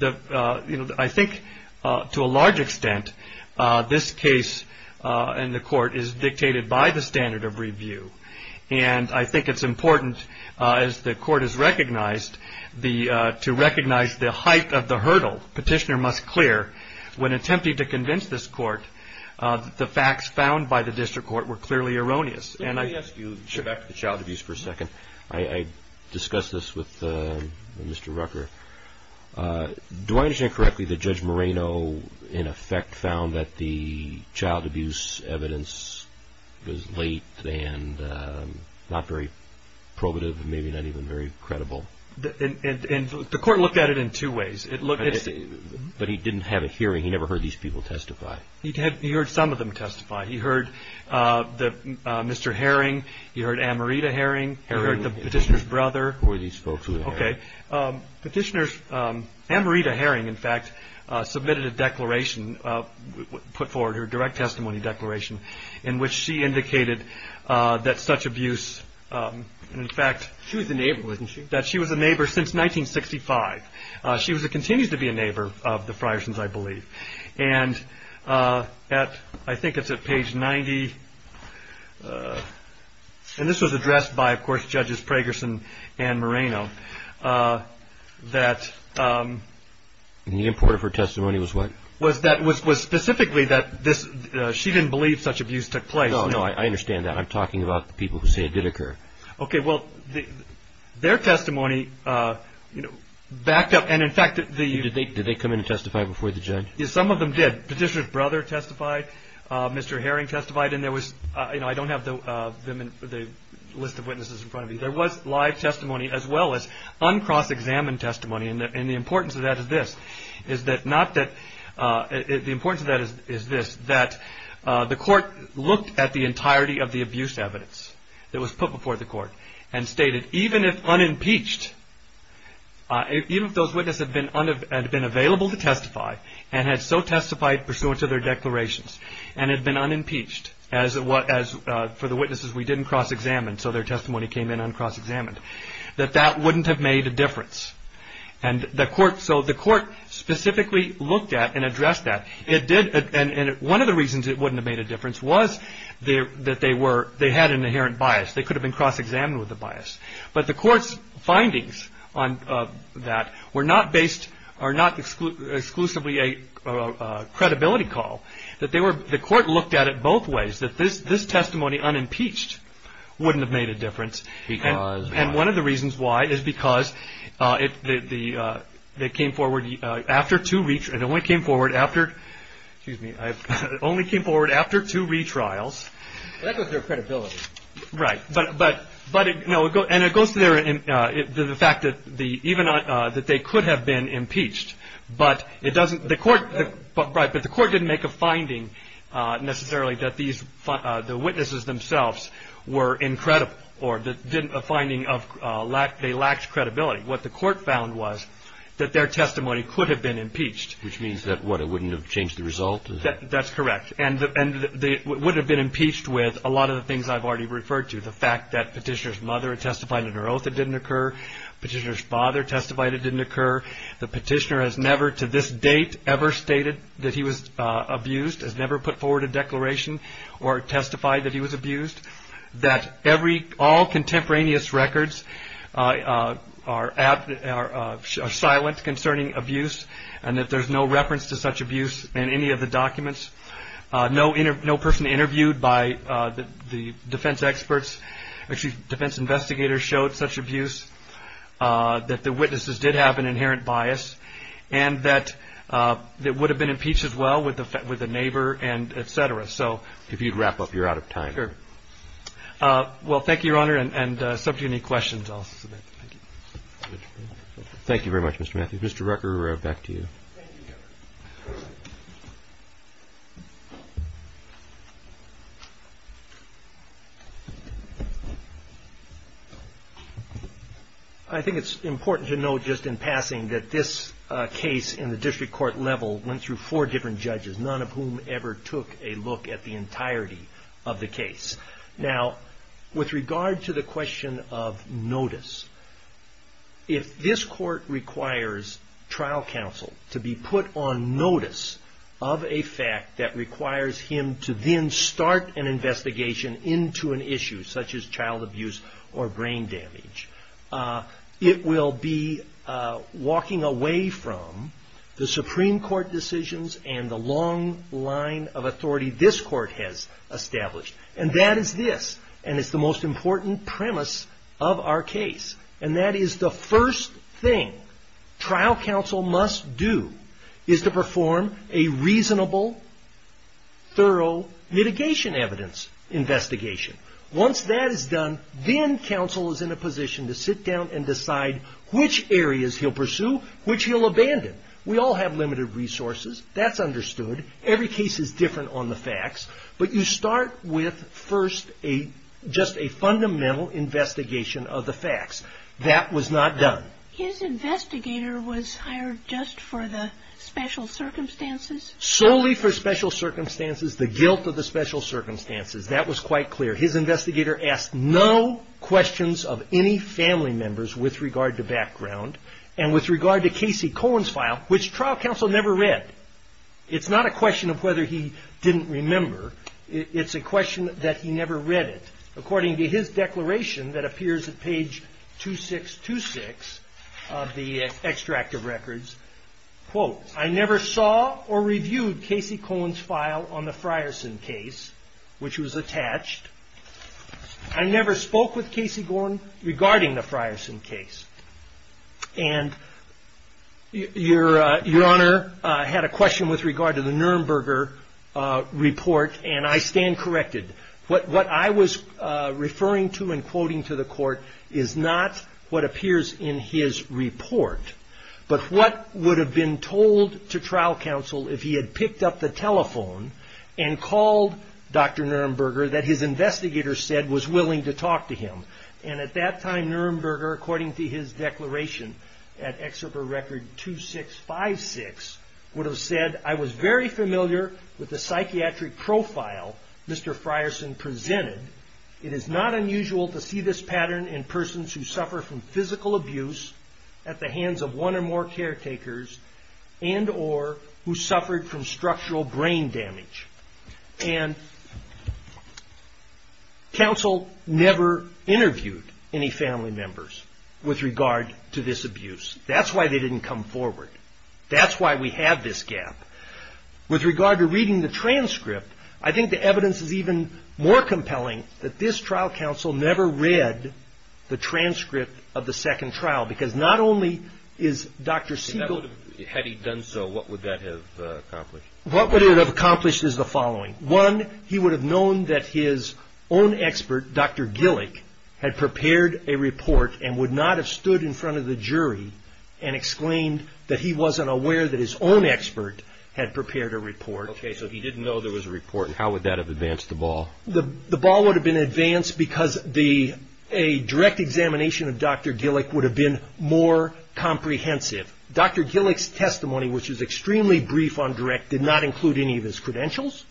I think, to a large extent, this case in the court is dictated by the standard of review, and I think it's important, as the court has recognized, to recognize the height of the hurdle. Petitioner must clear, when attempting to convince this court, that the facts found by the district court were clearly erroneous, and I... I have a question on this with Mr. Rucker. Do I understand correctly that Judge Moreno, in effect, found that the child abuse evidence was late and not very probative, maybe not even very credible? The court looked at it in two ways. But he didn't have a hearing. He never heard these people testify. He heard some of them testify. He heard Mr. Herring, he heard Amarita Herring, he heard the petitioner's brother. Who were these folks? Petitioner Amarita Herring, in fact, submitted a declaration, put forward her direct testimony declaration, in which she indicated that such abuse, in fact... She was a neighbor, wasn't she? That she was a neighbor since 1965. She continues to be a neighbor of the Friarsons, I believe. And at, I think it's at page 90, and this was addressed by, of course, Judges Pragerson and Moreno, that... The import of her testimony was what? Was specifically that she didn't believe such abuse took place. No, I understand that. I'm talking about the people who say it did occur. Okay, well, their testimony backed up, and in fact... Did they come in and testify before the judge? Some of them did. Petitioner's brother testified, Mr. Herring testified, and there was... I don't have the list of witnesses in front of me. There was live testimony as well as uncross-examined testimony, and the importance of that is this. The importance of that is this, that the court looked at the entirety of the abuse evidence that was put before the court, and stated, even if unimpeached, even if those witnesses had been available to testify, and had so testified pursuant to their declarations, and had been unimpeached, as for the witnesses we didn't cross-examine, so their testimony came in uncross-examined, that that wouldn't have made a difference. And the court, so the court specifically looked at and addressed that. It did, and one of the reasons it wouldn't have made a difference was that they were, they had an inherent bias. They could have been cross-examined with the bias. But the court's findings on that were not based, are not exclusively a credibility call. That they were, the court looked at it both ways, that this testimony unimpeached wouldn't have made a difference. And one of the reasons why is because it came forward after two retrials. Excuse me. It only came forward after two retrials. That was their credibility. Right. But, no, and it goes to the fact that even, that they could have been impeached. But it doesn't, the court, right, but the court didn't make a finding necessarily that these, the witnesses themselves were incredible, or didn't, a finding of, they lacked credibility. What the court found was that their testimony could have been impeached. Which means that, what, it wouldn't have changed the result? That's correct. And they would have been impeached with a lot of the things I've already referred to. The fact that petitioner's mother testified in her oath it didn't occur. Petitioner's father testified it didn't occur. The petitioner has never to this date ever stated that he was abused, has never put forward a declaration or testified that he was abused. That every, all contemporaneous records are silent concerning abuse. And that there's no reference to such abuse in any of the documents. No person interviewed by the defense experts, actually defense investigators showed such abuse. That the witnesses did have an inherent bias. And that it would have been impeached as well with the neighbor and et cetera. So. If you'd wrap up, you're out of time. Sure. Well, thank you, Your Honor, and subject to any questions, I'll submit. Thank you. Thank you very much, Mr. Matthews. Mr. Rucker, back to you. Thank you, Your Honor. I think it's important to note just in passing that this case in the district court level went through four different judges. None of whom ever took a look at the entirety of the case. Now, with regard to the question of notice. If this court requires trial counsel to be put on notice of a fact that requires him to then start an investigation into an issue, such as child abuse or brain damage, it will be walking away from the Supreme Court decisions and the long line of authority this court has established. And that is this. And it's the most important premise of our case. And that is the first thing trial counsel must do is to perform a reasonable, thorough mitigation evidence investigation. Once that is done, then counsel is in a position to sit down and decide which areas he'll pursue, which he'll abandon. We all have limited resources. That's understood. Every case is different on the facts. But you start with first just a fundamental investigation of the facts. That was not done. His investigator was hired just for the special circumstances? Solely for special circumstances. The guilt of the special circumstances. That was quite clear. His investigator asked no questions of any family members with regard to background and with regard to Casey Cohen's file, which trial counsel never read. It's not a question of whether he didn't remember. It's a question that he never read it. According to his declaration that appears at page 2626 of the extract of records, quote, I never saw or reviewed Casey Cohen's file on the Frierson case, which was attached. I never spoke with Casey Gordon regarding the Frierson case. And your honor had a question with regard to the Nuremberger report. And I stand corrected. What I was referring to and quoting to the court is not what appears in his report, but what would have been told to trial counsel if he had picked up the telephone and called Dr. Nuremberger that his investigator said was willing to talk to him. And at that time, Nuremberger, according to his declaration at excerpt of record 2656, would have said I was very familiar with the psychiatric profile Mr. Frierson presented. It is not unusual to see this pattern in persons who suffer from physical abuse at the hands of one or more caretakers and or who suffered from structural brain damage. And counsel never interviewed any family members with regard to this abuse. That's why they didn't come forward. That's why we have this gap. With regard to reading the transcript, I think the evidence is even more compelling that this trial counsel never read the transcript of the second trial, because not only is Dr. Segal. Had he done so, what would that have accomplished? What would it have accomplished is the following. One, he would have known that his own expert, Dr. Gillick, had prepared a report and would not have stood in front of the jury and exclaimed that he wasn't aware that his own expert had prepared a report. Okay, so he didn't know there was a report. How would that have advanced the ball? The ball would have been advanced because a direct examination of Dr. Gillick would have been more comprehensive. Dr. Gillick's testimony, which is extremely brief on direct, did not include any of his credentials.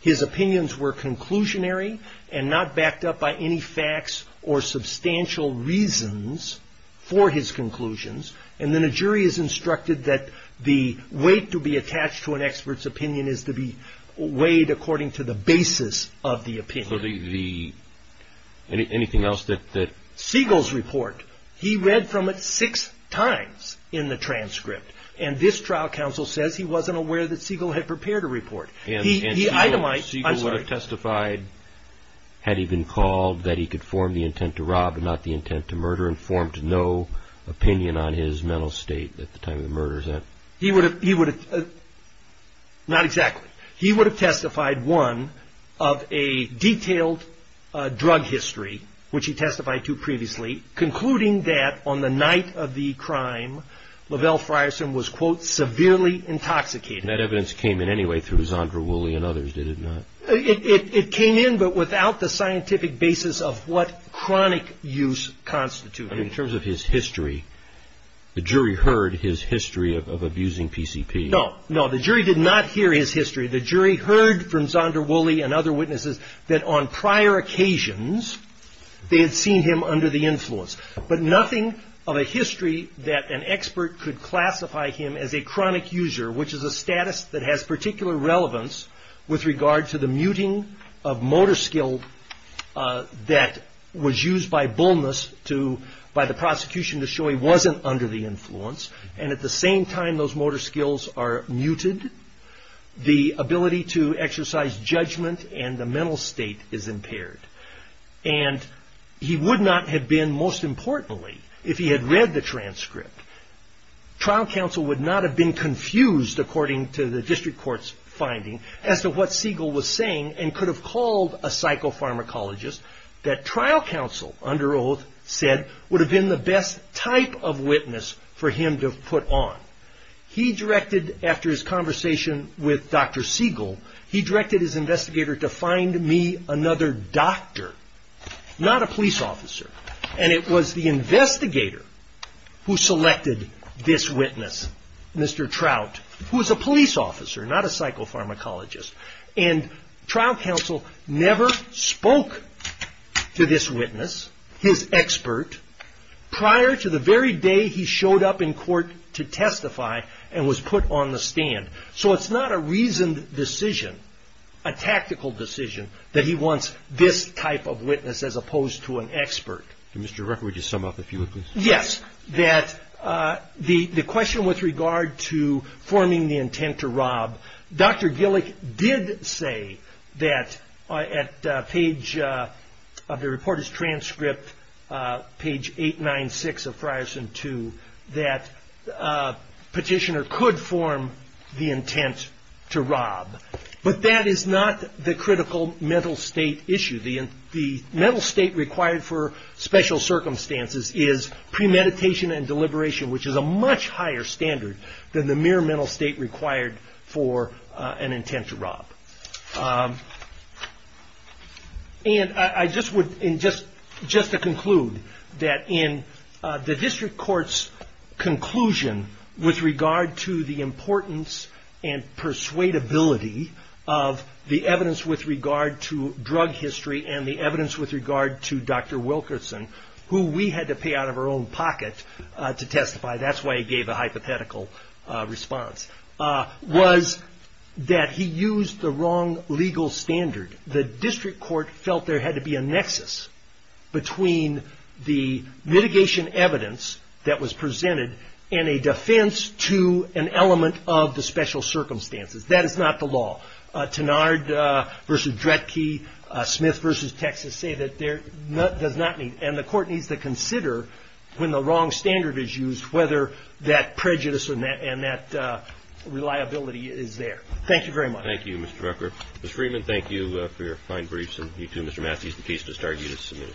His opinions were conclusionary and not backed up by any facts or substantial reasons for his conclusions. And then a jury is instructed that the weight to be attached to an expert's opinion is to be weighed according to the basis of the opinion. Anything else? Segal's report, he read from it six times in the transcript. And this trial counsel says he wasn't aware that Segal had prepared a report. And Segal would have testified, had he been called, that he could form the intent to rob and not the intent to murder and formed no opinion on his mental state at the time of the murder. Not exactly. He would have testified, one, of a detailed drug history, which he testified to previously, concluding that on the night of the crime, Lavelle Frierson was, quote, severely intoxicated. And that evidence came in anyway through Zandra Woolley and others, did it not? It came in, but without the scientific basis of what chronic use constituted. In terms of his history, the jury heard his history of abusing PCP. No, no, the jury did not hear his history. The jury heard from Zandra Woolley and other witnesses that on prior occasions they had seen him under the influence, but nothing of a history that an expert could classify him as a chronic user, which is a status that has particular relevance with regard to the muting of motor skill that was used by Bullness to, by the prosecution to show he wasn't under the influence. And at the same time those motor skills are muted, the ability to exercise judgment and the mental state is impaired. And he would not have been, most importantly, if he had read the transcript, trial counsel would not have been confused according to the district court's finding as to what Siegel was saying and could have called a psychopharmacologist that trial counsel under oath said would have been the best type of witness for him to put on. He directed, after his conversation with Dr. Siegel, he directed his investigator to find me another doctor, not a police officer. And it was the investigator who selected this witness, Mr. Trout, who was a police officer, not a psychopharmacologist. And trial counsel never spoke to this witness, his expert, prior to the very day he showed up in court to testify and was put on the stand. So it's not a reasoned decision, a tactical decision, that he wants this type of witness as opposed to an expert. Mr. Rucker, would you sum up if you would, please? Yes. That the question with regard to forming the intent to rob, Dr. Gillick did say that at page of the reporter's transcript, page 896 of Frierson 2, that petitioner could form the intent to rob. But that is not the critical mental state issue. The mental state required for special circumstances is premeditation and deliberation, which is a much higher standard than the mere mental state required for an intent to rob. And just to conclude, that in the district court's conclusion with regard to the importance and persuadability of the evidence with regard to drug history and the evidence with regard to Dr. Wilkerson, who we had to pay out of our own pocket to testify, that's why he gave a hypothetical response, was that he used the wrong legal standard. The district court felt there had to be a nexus between the mitigation evidence that was presented and a defense to an element of the special circumstances. That is not the law. Tenard v. Dredke, Smith v. Texas say that there does not need, and the court needs to consider when the wrong standard is used whether that prejudice and that reliability is there. Thank you very much. Thank you, Mr. Rucker. Ms. Freeman, thank you for your fine briefs. And you, too, Mr. Massey, the case to start you to submit.